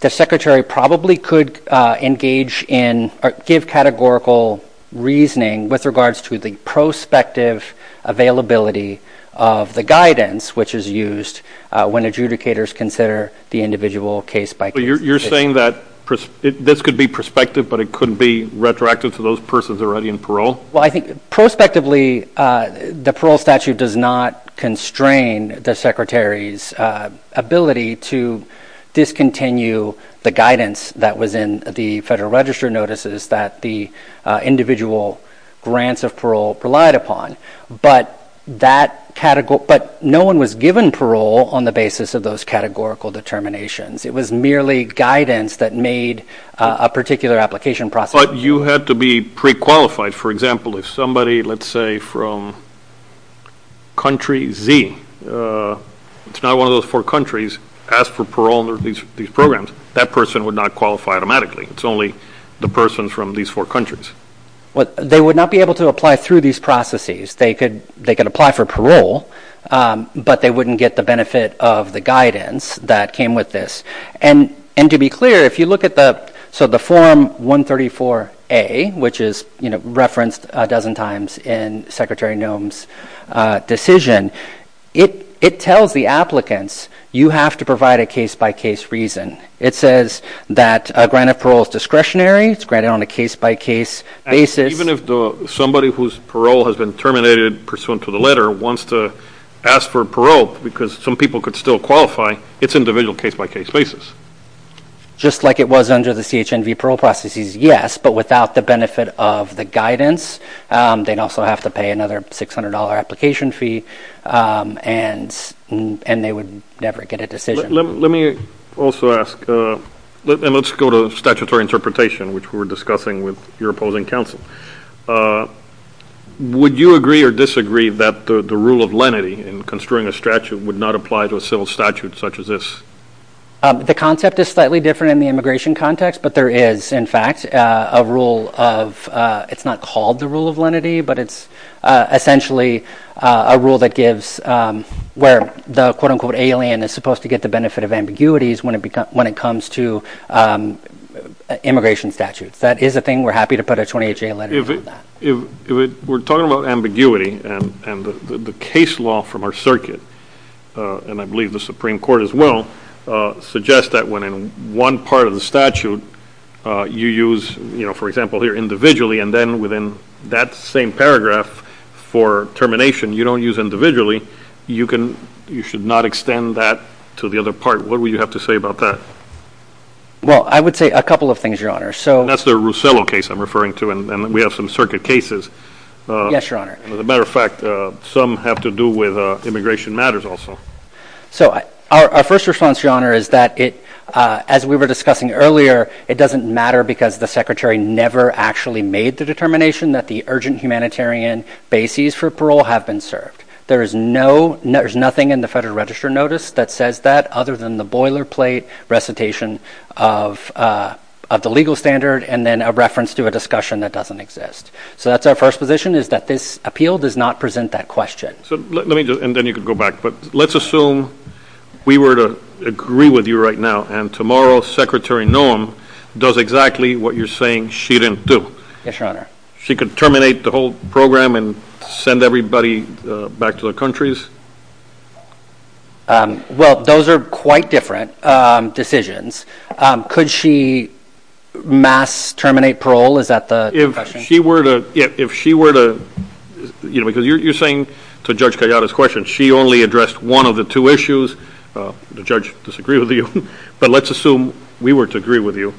the Secretary probably could engage in or give categorical reasoning with regards to the prospective availability of the guidance, which is used when adjudicators consider the individual case by- You're saying that this could be prospective, but it couldn't be retroactive to those persons already in parole? Well, I think prospectively, the parole statute does not constrain the Secretary's ability to discontinue the guidance that was in the Federal Register notices that the individual grants of parole relied upon, but no one was given parole on the basis of those categorical determinations. It was merely guidance that made a particular application process. But you have to be pre-qualified. For example, if somebody, let's say from country Z, it's not one of those four countries, asked for parole under these programs, that person would not qualify automatically. It's only the person from these four countries. They would not be able to apply through these processes. They could apply for parole, but they wouldn't get the benefit of the guidance that came with this. And to be clear, if you look at the form 134A, which is referenced a dozen times in Secretary Noem's decision, it tells the applicants, you have to provide a case-by-case reason. It says that granted parole is discretionary. It's granted on a case-by-case basis. Even if somebody whose parole has been terminated pursuant to the letter wants to ask for parole because some people could still qualify, it's individual case-by-case basis. Just like it was under the CHNB parole processes, yes. But without the benefit of the guidance, they'd also have to pay another $600 application fee, and they would never get a decision. Let me also ask, and let's go to statutory interpretation, which we were discussing with your opposing counsel. Would you agree or disagree that the rule of lenity in construing a statute would not apply to a civil statute such as this? The concept is slightly different in the immigration context, but there is, in fact, a rule of, it's not called the rule of lenity, but it's essentially a rule that gives, where the quote-unquote alien is supposed to get the benefit of ambiguities when it comes to immigration statutes. If that is a thing, we're happy to put a 28-day leniency on that. We're talking about ambiguity, and the case law from our circuit, and I believe the Supreme Court as well, suggest that when in one part of the statute you use, for example, here individually, and then within that same paragraph for termination you don't use individually, you should not extend that to the other part. What would you have to say about that? Well, I would say a couple of things, Your Honor. That's the Russello case I'm referring to, and we have some circuit cases. Yes, Your Honor. As a matter of fact, some have to do with immigration matters also. So our first response, Your Honor, is that it, as we were discussing earlier, it doesn't matter because the Secretary never actually made the determination that the urgent humanitarian bases for parole have been served. There is no, there's nothing in the Federal Register Notice that says that other than the boilerplate recitation of the legal standard and then a reference to a discussion that doesn't exist. So that's our first position, is that this appeal does not present that question. And then you can go back, but let's assume we were to agree with you right now and tomorrow Secretary Nuland does exactly what you're saying she didn't do. Yes, Your Honor. She could terminate the whole program and send everybody back to their countries? Well, those are quite different decisions. Could she mass terminate parole? Is that the question? If she were to, if she were to, you know, because you're saying to Judge Cagata's question, she only addressed one of the two issues. The judge disagreed with you, but let's assume we were to agree with you.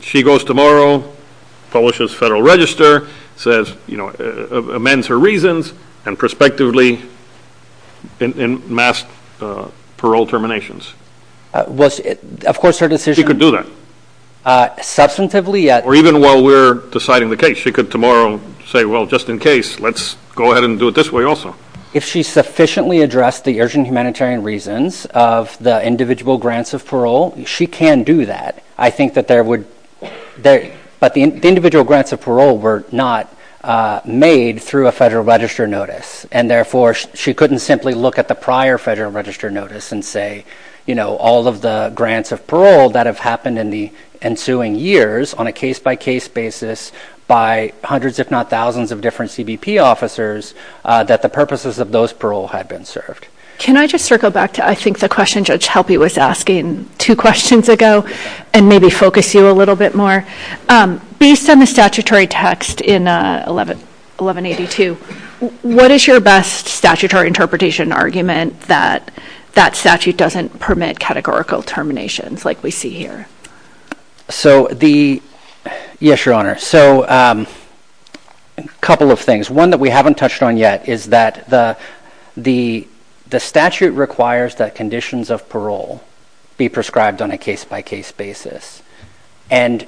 She goes tomorrow, publishes Federal Register, says, you know, amends her reasons and prospectively in mass parole terminations. Of course, her decision. She could do that. Substantively, yes. Or even while we're deciding the case, she could tomorrow say, well, just in case, let's go ahead and do it this way also. If she sufficiently addressed the urgent humanitarian reasons of the individual grants of parole, she can do that. I think that there would, but the individual grants of parole were not made through a Federal Register notice. And therefore, she couldn't simply look at the prior Federal Register notice and say, you know, all of the grants of parole that have happened in the ensuing years on a case by case basis by hundreds, if not thousands of different CBP officers, that the purposes of those parole had been served. Can I just circle back to, I think the question Judge Halpy was asking two questions ago, and maybe focus you a little bit more. Based on the statutory text in 1182, what is your best statutory interpretation argument that that statute doesn't permit categorical terminations like we see here? So the, yes, Your Honor. So a couple of things. One that we haven't touched on yet is that the statute requires that conditions of parole be prescribed on a case by case basis. And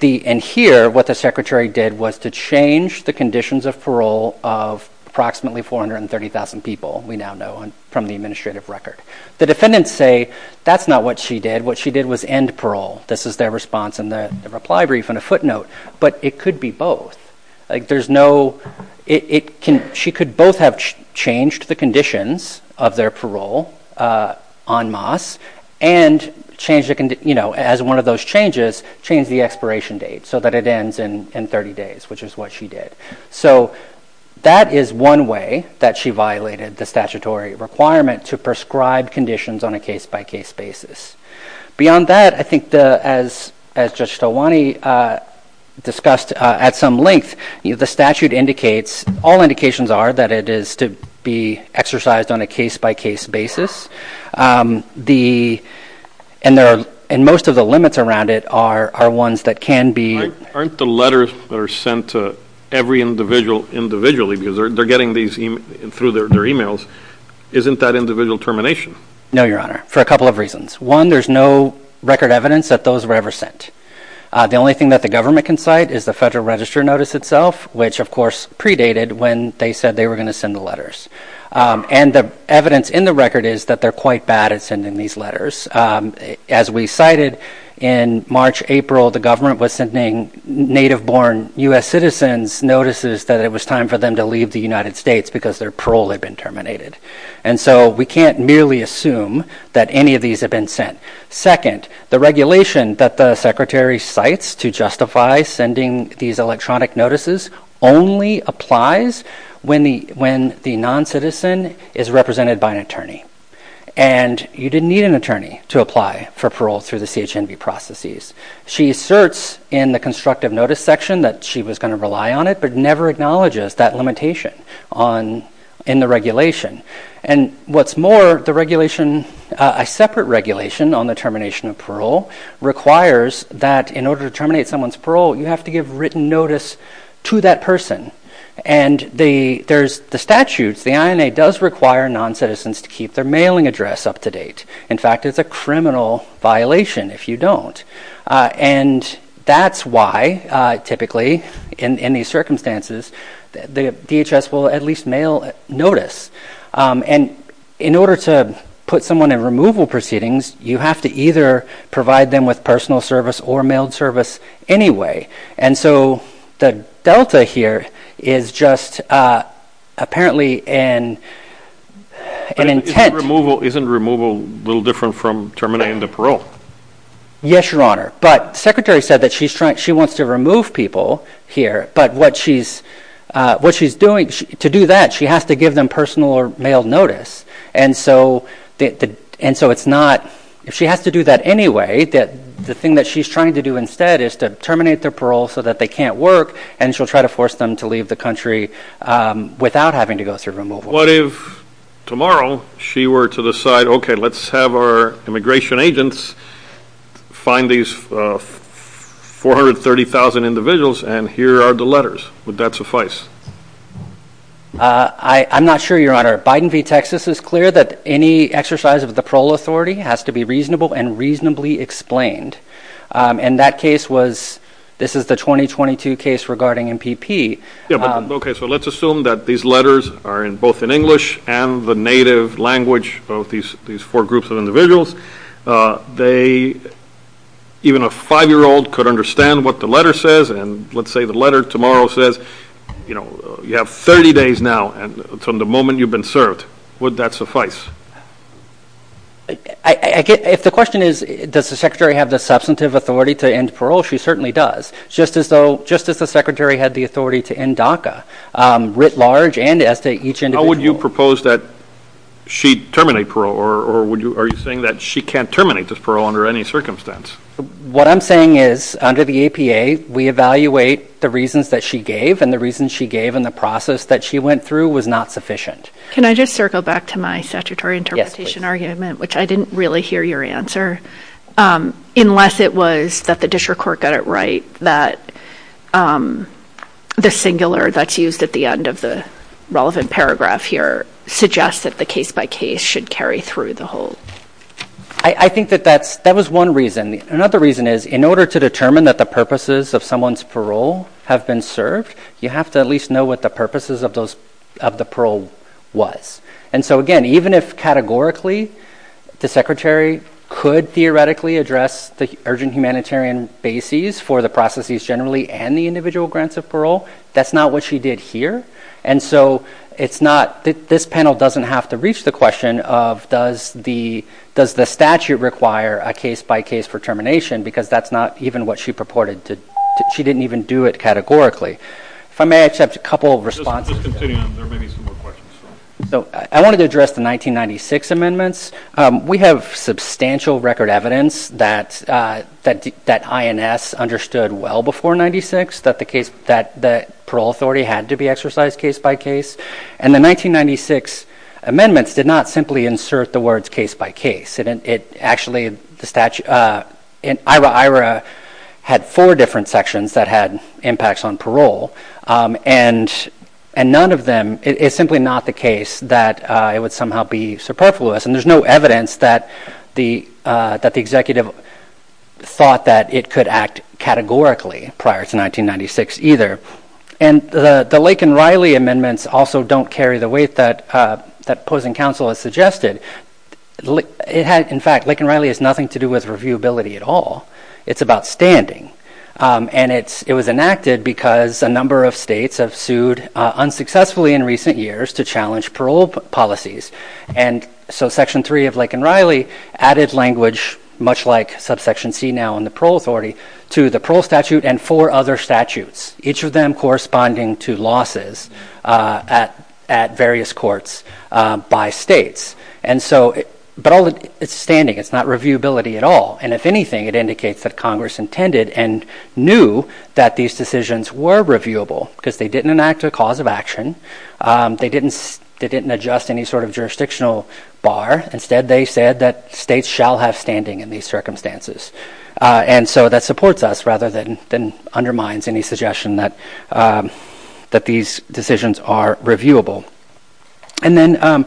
the, and here what the Secretary did was to change the conditions of parole of approximately 430,000 people we now know from the administrative record. The defendants say that's not what she did. What she did was end parole. This is their response in the reply brief and a footnote. But it could be both. Like there's no, it can, she could both have changed the conditions of their parole on MAS and change the, you know, as one of those changes, change the expiration date so that it ends in 30 days, which is what she did. So that is one way that she violated the statutory requirement to prescribe conditions on a case by case basis. Beyond that, I think the, as Judge Stelwane discussed at some length, the statute indicates, all indications are that it is to be exercised on a case by case basis. The, and there are, and most of the limits around it are, are ones that can be. Aren't the letters that are sent to every individual individually because they're getting these through their emails. Isn't that individual termination? No, Your Honor, for a couple of reasons. One, there's no record evidence that those were ever sent. The only thing that the government can cite is the Federal Register Notice itself, which of course predated when they said they were going to send the letters. And the evidence in the record is that they're quite bad at sending these letters. As we cited in March, April, the government was sending native born U.S. citizens notices that it was time for them to leave the United States because their parole had been terminated. And so we can't merely assume that any of these have been sent. Second, the regulation that the Secretary cites to justify sending these electronic notices only applies when the, when the non-citizen is represented by an attorney. And you didn't need an attorney to apply for parole through the CHNB processes. She asserts in the constructive notice section that she was going to rely on it, but never acknowledges that limitation on, in the regulation. And what's more, the regulation, a separate regulation on the termination of parole requires that in order to terminate someone's parole, you have to give written notice to that person. And the, there's the statutes, the INA does require non-citizens to keep their mailing address up to date. In fact, it's a criminal violation if you don't. And that's why typically in any circumstances, the DHS will at least mail notice. And in order to put someone in removal proceedings, you have to either provide them with personal service or mailed service anyway. And so the Delta here is just, uh, apparently in an intent. Isn't removal a little different from terminating the parole? Yes, Your Honor. But the Secretary said that she's trying, she wants to remove people here, but what she's, uh, what she's doing to do that, she has to give them personal or mailed notice. And so, and so it's not, if she has to do that anyway, that the thing that she's trying to do instead is to terminate their parole so that they can't work. And she'll try to force them to leave the country, um, without having to go through removal. What if tomorrow she were to decide, okay, let's have our immigration agents find these 430,000 individuals and here are the letters. Would that suffice? Uh, I, I'm not sure, Your Honor. Biden v. Texas is clear that any exercise of the parole authority has to be reasonable and reasonably explained. Um, and that case was, this is the 2022 case regarding MPP. Yeah. Okay. So let's assume that these letters are in both in English and the native language, both these, these four groups of individuals, uh, they, even a five-year-old could understand what the letter says. And let's say the letter tomorrow says, you know, you have 30 days now. And from the moment you've been served, would that suffice? I get, if the question is, does the secretary have the substantive authority to end parole? She certainly does. Just as though, just as the secretary had the authority to end DACA, um, writ large and as to each individual. How would you propose that she terminate parole or, or would you, are you saying that she can't terminate this parole under any circumstance? What I'm saying is under the APA, we evaluate the reasons that she gave and the reasons she gave in the process that she went through was not sufficient. Can I just circle back to my statutory interpretation argument, which I didn't really hear your answer, um, unless it was that the district court got it right. That, um, the singular that's used at the end of the relevant paragraph here suggests that the case by case should carry through the whole. I think that that's, that was one reason. Another reason is in order to determine that the purposes of someone's parole have been served, you have to at least know what the purposes of those, of the parole was. And so again, even if categorically the secretary could theoretically address the urgent humanitarian bases for the processes generally and the individual grants of parole, that's not what she did here. And so it's not, this panel doesn't have to reach the question of does the, does the statute require a case by case for termination? Because that's not even what she purported to, she didn't even do it categorically. If I may accept a couple of responses. Just continue, there may be some more questions. So I wanted to address the 1996 amendments. We have substantial record evidence that, uh, that, that INS understood well before 96 that the case, that the parole authority had to be exercised case by case. And the 1996 amendments did not simply insert the words case by case. It actually, the statute, uh, in IHRA, IHRA had four different sections that had impacts on parole. And, and none of them, it's simply not the case that, uh, it would somehow be superfluous. And there's no evidence that the, uh, that the executive thought that it could act categorically prior to 1996 either. And the, the Lake and Riley amendments also don't carry the weight that, uh, that closing counsel has suggested. It had, in fact, Lake and Riley has nothing to do with reviewability at all. It's about standing. And it's, it was enacted because a number of states have sued, uh, unsuccessfully in recent years to challenge parole policies. And so section three of Lake and Riley added language, much like subsection C now in the parole authority to the parole statute and four other statutes, each of them corresponding to losses, uh, at, at various courts, uh, by states. And so, but all the, it's standing, it's not reviewability at all. And if anything, it indicates that Congress intended and knew that these decisions were reviewable because they didn't enact a cause of action. Um, they didn't, they didn't adjust any sort of jurisdictional bar. Instead, they said that states shall have standing in these circumstances. Uh, and so that supports us rather than, than undermines any suggestion that, um, that these decisions are reviewable. And then, um,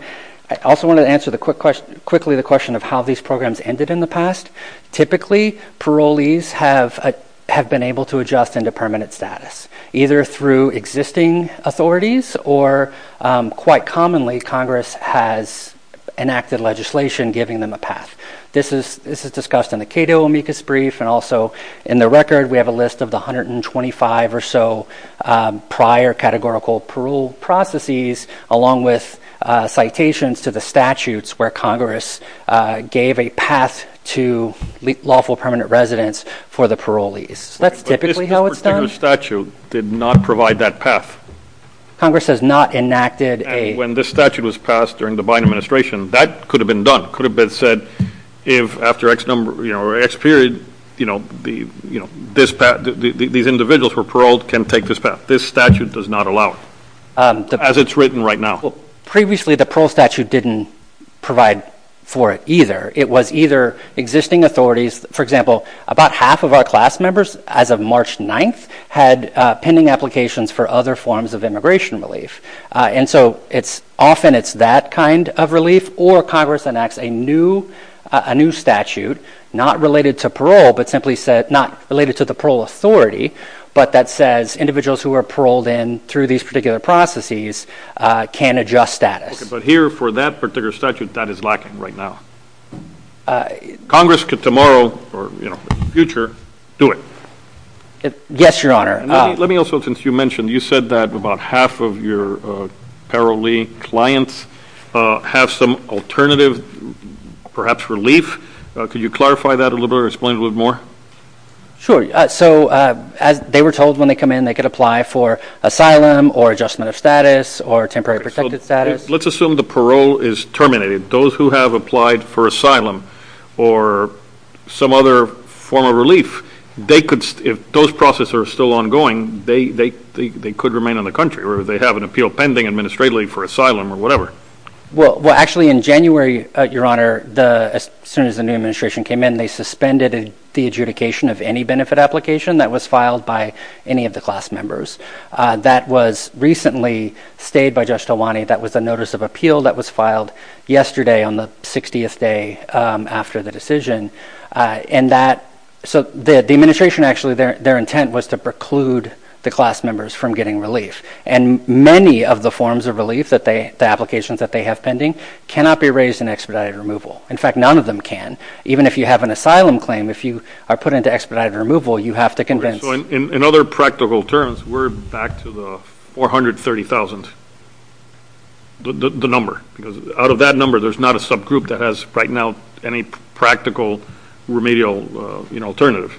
I also want to answer the quick question, quickly the question of how these programs ended in the past. Typically parolees have, uh, have been able to adjust into permanent status, either through existing authorities or, um, quite commonly Congress has enacted legislation giving them a pass. This is, this is discussed in the Cato amicus brief and also in the record, we have a list of the 125 or so, um, prior categorical parole processes, along with, uh, citations to the statutes where Congress, uh, gave a path to lawful permanent residence for the parolees. That's typically how it's done. But this particular statute did not provide that path. Congress has not enacted a... When this statute was passed during the Biden administration, that could have been done. Could have been said if after X number, you know, or X period, you know, the, you know, this path, these individuals were paroled can take this path. This statute does not allow it as it's written right now. Previously, the parole statute didn't provide for it either. It was either existing authorities. For example, about half of our class members as of March 9th had, uh, pending applications for other forms of immigration relief. Uh, and so it's often it's that kind of relief or Congress enacts a new, uh, a new statute not related to parole, but simply said not related to the parole authority. But that says individuals who are paroled in through these particular processes, uh, can adjust status. Okay. But here for that particular statute that is lacking right now, uh, Congress could tomorrow or, you know, future do it. Yes, your honor. Let me also, since you mentioned, you said that about half of your, uh, parolee clients, uh, have some alternative, perhaps relief. Can you clarify that a little bit or explain a little more? Sure. So, uh, as they were told when they come in, they could apply for asylum or adjustment of status or temporary protected status. Let's assume the parole is terminated. Those who have applied for asylum or some other form of relief, they could, if those processes are still ongoing, they, they, they, they could remain in the country or they have an appeal pending administratively for asylum or whatever. Well, well, actually in January, uh, your honor, the, as soon as the new administration came in, they suspended the adjudication of any benefit application that was filed by any of the class members. Uh, that was recently stayed by just the one that was a notice of appeal that was filed yesterday on the 60th day, um, after the decision, uh, and that. So the administration actually, their, their intent was to preclude the class members from getting relief. And many of the forms of relief that they, the applications that they have pending cannot be raised in expedited removal. In fact, none of them can, even if you have an asylum claim, if you are put into expedited removal, you have to convince. So in other practical terms, we're back to the 430,000, the number because out of that number, there's not a subgroup that has right now, any practical remedial, uh, you know, alternative.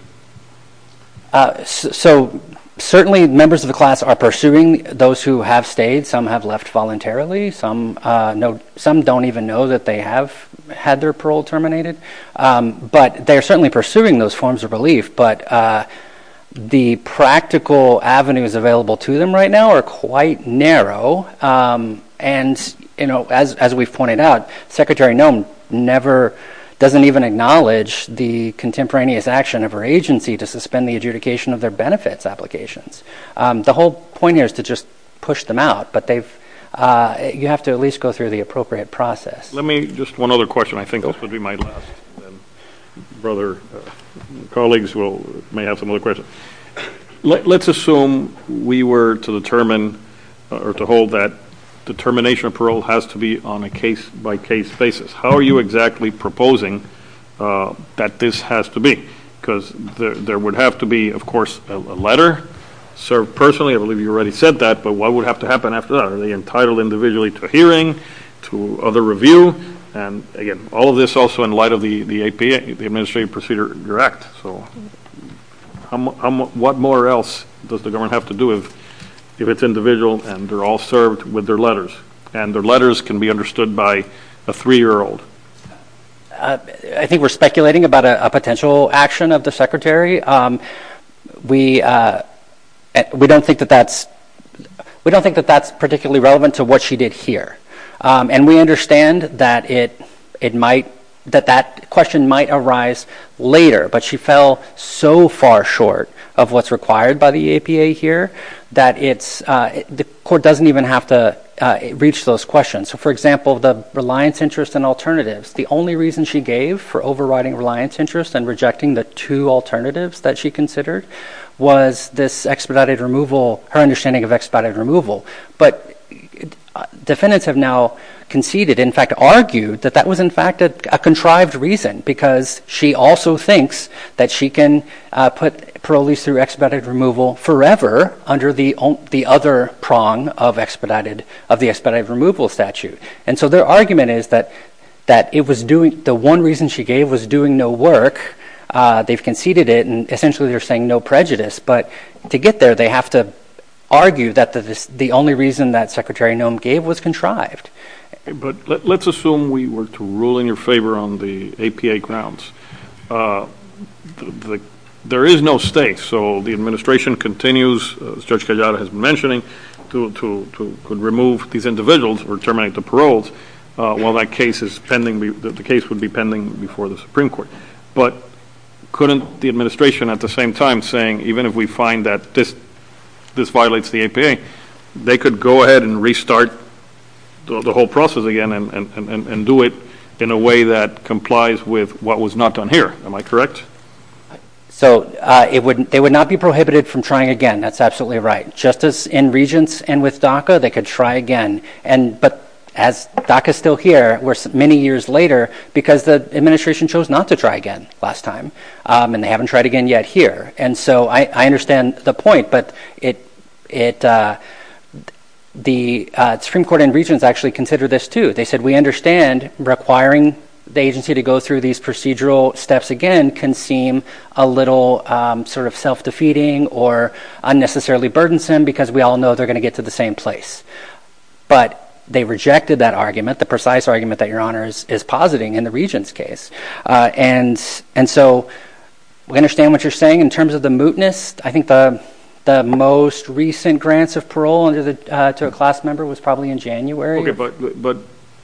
Uh, so certainly members of the class are pursuing those who have stayed. Some have left voluntarily. Some, uh, no, some don't even know that they have had their parole terminated. Um, but they're certainly pursuing those forms of relief, but, uh, the practical avenues available to them right now are quite narrow. Um, and you know, as, as we've pointed out, secretary Noem never doesn't even acknowledge the contemporaneous action of her agency to suspend the adjudication of their benefits applications. Um, the whole point is to just push them out, but they've, uh, you have to at least go through the appropriate process. Let me just one other question. I think this would be my last brother. Colleagues will may have some other questions. Let's assume we were to determine or to hold that determination of parole has to be on a case by case basis. How are you exactly proposing, uh, that this has to be? Because there, there would have to be, of course, a letter served personally. I believe you already said that, but what would have to happen after that? Are they entitled individually to a hearing, to other review? And again, all of this also in light of the, the APA, the Administrative Procedure Direct. So what more else does the government have to do if, if it's individual and they're all served with their letters? And their letters can be understood by a three-year-old. I think we're speculating about a potential action of the secretary. We, uh, we don't think that that's, we don't think that that's particularly relevant to what she did here. And we understand that it, it might, that that question might arise later, but she fell so far short of what's required by the APA here that it's, uh, the court doesn't even have to, uh, reach those questions. So for example, the reliance interest and alternatives, the only reason she gave for overriding reliance interest and rejecting the two alternatives that she considered was this expedited removal, her understanding of expedited removal. But defendants have now conceded, in fact, argued that that was in fact a contrived reason because she also thinks that she can, uh, put parolees through expedited removal forever under the, the other prong of expedited, of the expedited removal statute. And so their argument is that, that it was doing, the one reason she gave was doing no work. Uh, they've conceded it and essentially they're saying no prejudice, but to get there, they have to argue that the, the only reason that secretary Noem gave was contrived. But let's assume we were to rule in your favor on the APA grounds. Uh, the, there is no state. So the administration continues, uh, stretch out has mentioning to, to, to remove these individuals or terminate the paroles. Uh, while that case is pending, the case would be pending before the Supreme court, but couldn't the administration at the same time saying, even if we find that this, this violates the APA, they could go ahead and restart the whole process again and, and, and do it in a way that complies with what was not done here. Am I correct? So, uh, it wouldn't, they would not be prohibited from trying again. That's absolutely right. Just as in regents and with DACA, they could try again. And, but as DACA is still here, we're many years later because the administration chose not to try again last time. Um, and they haven't tried again yet here. And so I, I understand the point, but it, it, uh, the, uh, Supreme court and regents actually consider this too. They said, we understand requiring the agency to go through these procedural steps again, can seem a little, um, sort of self-defeating or unnecessarily burdensome because we all know they're going to get to the same place. But they rejected that argument, the precise argument that your honor is, is positing in the regents case. Uh, and, and so we understand what you're saying in terms of the mootness. I think the, the most recent grants of parole under the, uh, to a class member was probably in January. But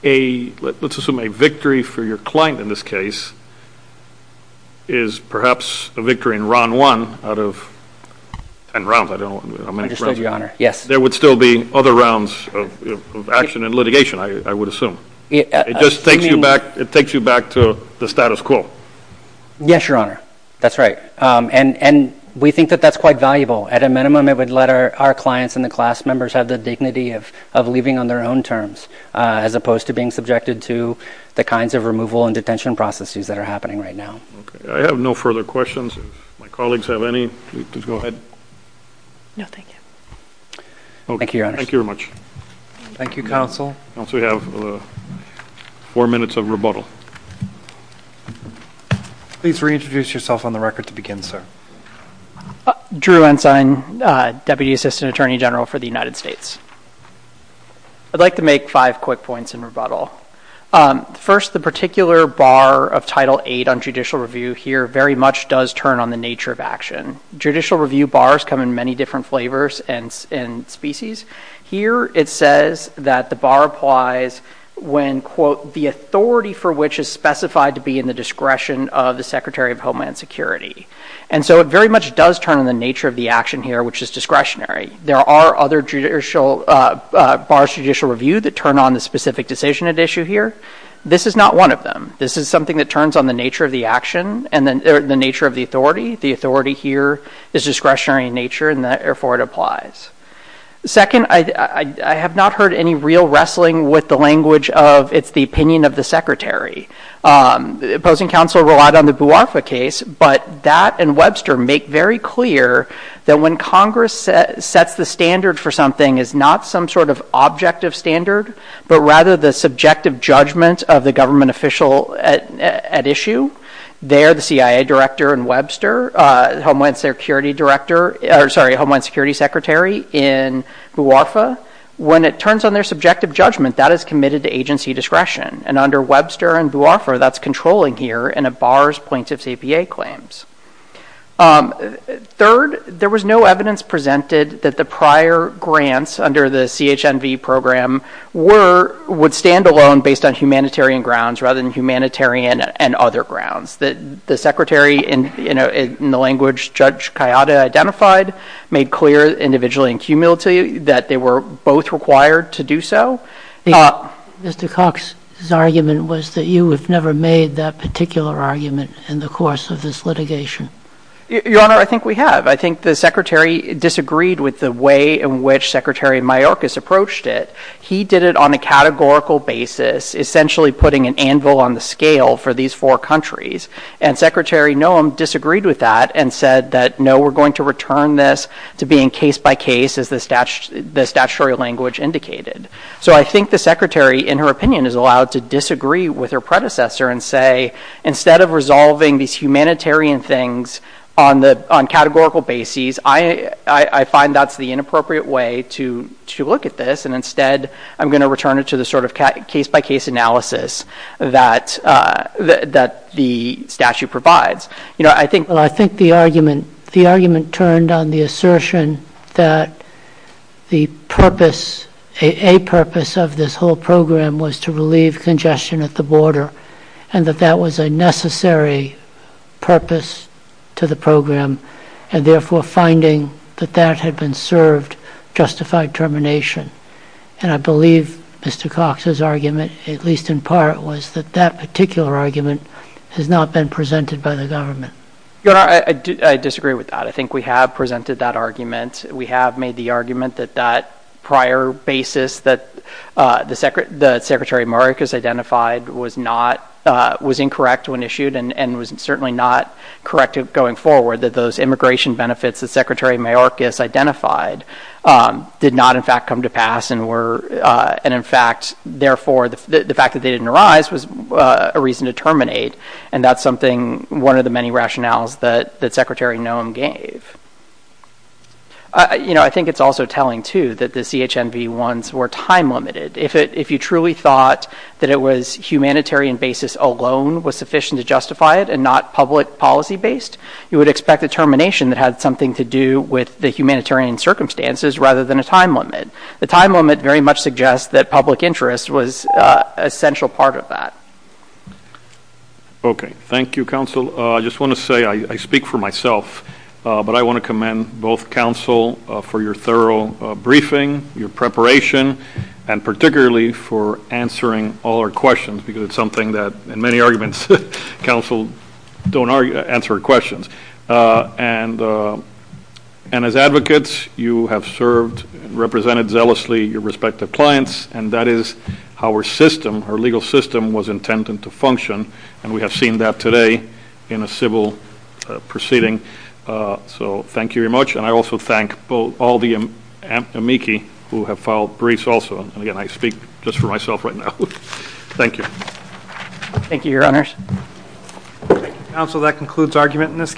a, let's assume a victory for your client in this case is perhaps a victory in Ron one out of 10 rounds. I don't know how many rounds. Yes. There would still be other rounds of action and litigation. I would assume it just takes you back. It takes you back to the status quo. Yes, your honor. That's right. Um, and, and we think that that's quite valuable at a minimum. It would let our, our clients and the class members have the dignity of, of living on their own terms, uh, as opposed to being subjected to the kinds of removal and detention processes that are happening right now. Okay. I have no further questions. If my colleagues have any, please go ahead. No, thank you. Okay. Thank you very much. Thank you counsel. Once we have four minutes of rebuttal, please reintroduce yourself on the record to begin, sir. Drew Ensign, uh, deputy assistant attorney general for the United States. I'd like to make five quick points in rebuttal. Um, first the particular bar of title eight on judicial review here very much does turn on the nature of action. Judicial review bars come in many different flavors and, and species. Here it says that the bar applies when quote, the authority for which is specified to be in the discretion of the secretary of Homeland Security. And so it very much does turn on the nature of the action here, which is discretionary. There are other judicial, uh, uh, bar judicial review that turn on the specific decision of issue here. This is not one of them. This is something that turns on the nature of the action and then the nature of the authority. The authority here is discretionary in nature and therefore it applies. Second, I, I, I have not heard any real wrestling with the language of it's the opinion of the secretary. Um, the opposing counsel relied on the Buarfa case, but that and Webster make very clear that when Congress sets the standard for something is not some sort of objective standard, but rather the subjective judgment of the government official at, at issue, they are the CIA director and Webster, uh, Homeland Security director, or sorry, Homeland Security secretary in Buarfa. When it turns on their subjective judgment, that is committed to agency discretion and under Webster and Buarfa that's controlling here and it bars plaintiff's APA claims. Um, third, there was no evidence presented that the prior grants under the CHNV program were, would stand alone based on humanitarian grounds rather than humanitarian and other grounds that the secretary in, you know, in the language Judge Kayada identified, made clear individually and cumulatively that they were both required to do so. Mr. Cox's argument was that you have never made that particular argument in the course of this litigation. Your Honor, I think we have, I think the secretary disagreed with the way in which secretary Mayorkas approached it. He did it on a categorical basis, essentially putting an anvil on the scale for these four countries and secretary Noem disagreed with that and said that, no, we're going to return this to being case by case as the statute, the statutory language indicated. So I think the secretary in her opinion is allowed to disagree with her predecessor and say, instead of resolving these humanitarian things on the, on categorical basis, I, I find that's the inappropriate way to, to look at this and instead I'm going to return it to the sort of case by case analysis that, uh, that the statute provides. You know, I think, well, I think the argument, the argument turned on the assertion that the purpose, a purpose of this whole program was to relieve congestion at the border and that that was a necessary purpose to the program and therefore finding that that had been served justified termination. And I believe Mr. Cox's argument, at least in part, was that that particular argument has not been presented by the government. Your Honor, I disagree with that. I think we have presented that argument. We have made the argument that that prior basis that, uh, the secretary, the secretary identified was not, uh, was incorrect when issued and was certainly not correct going forward that those immigration benefits that secretary Mayorkas identified, um, did not in fact come to pass and were, uh, and in fact, therefore the fact that they didn't arise was a reason to terminate. And that's something, one of the many rationales that, that secretary Noem gave. You know, I think it's also telling too that the CHNB ones were time limited. If it, if you truly thought that it was humanitarian basis alone was sufficient to justify it and not public policy based, you would expect a termination that had something to do with the humanitarian circumstances rather than a time limit. The time limit very much suggests that public interest was a central part of that. Okay. Thank you, counsel. Uh, I just want to say I speak for myself, uh, but I want to commend both counsel for your thorough briefing, your preparation, and particularly for answering all our questions because it's something that in many arguments, counsel don't answer questions. Uh, and, uh, and as advocates, you have served represented zealously your respective clients and that is how our system, our legal system was intended to function. And we have seen that today in a civil proceeding. Uh, so thank you very much. And I also thank all the amici who have filed briefs also. And again, I speak just for myself right now. Thank you. Thank you, your honors. Counsel, that concludes argument in this.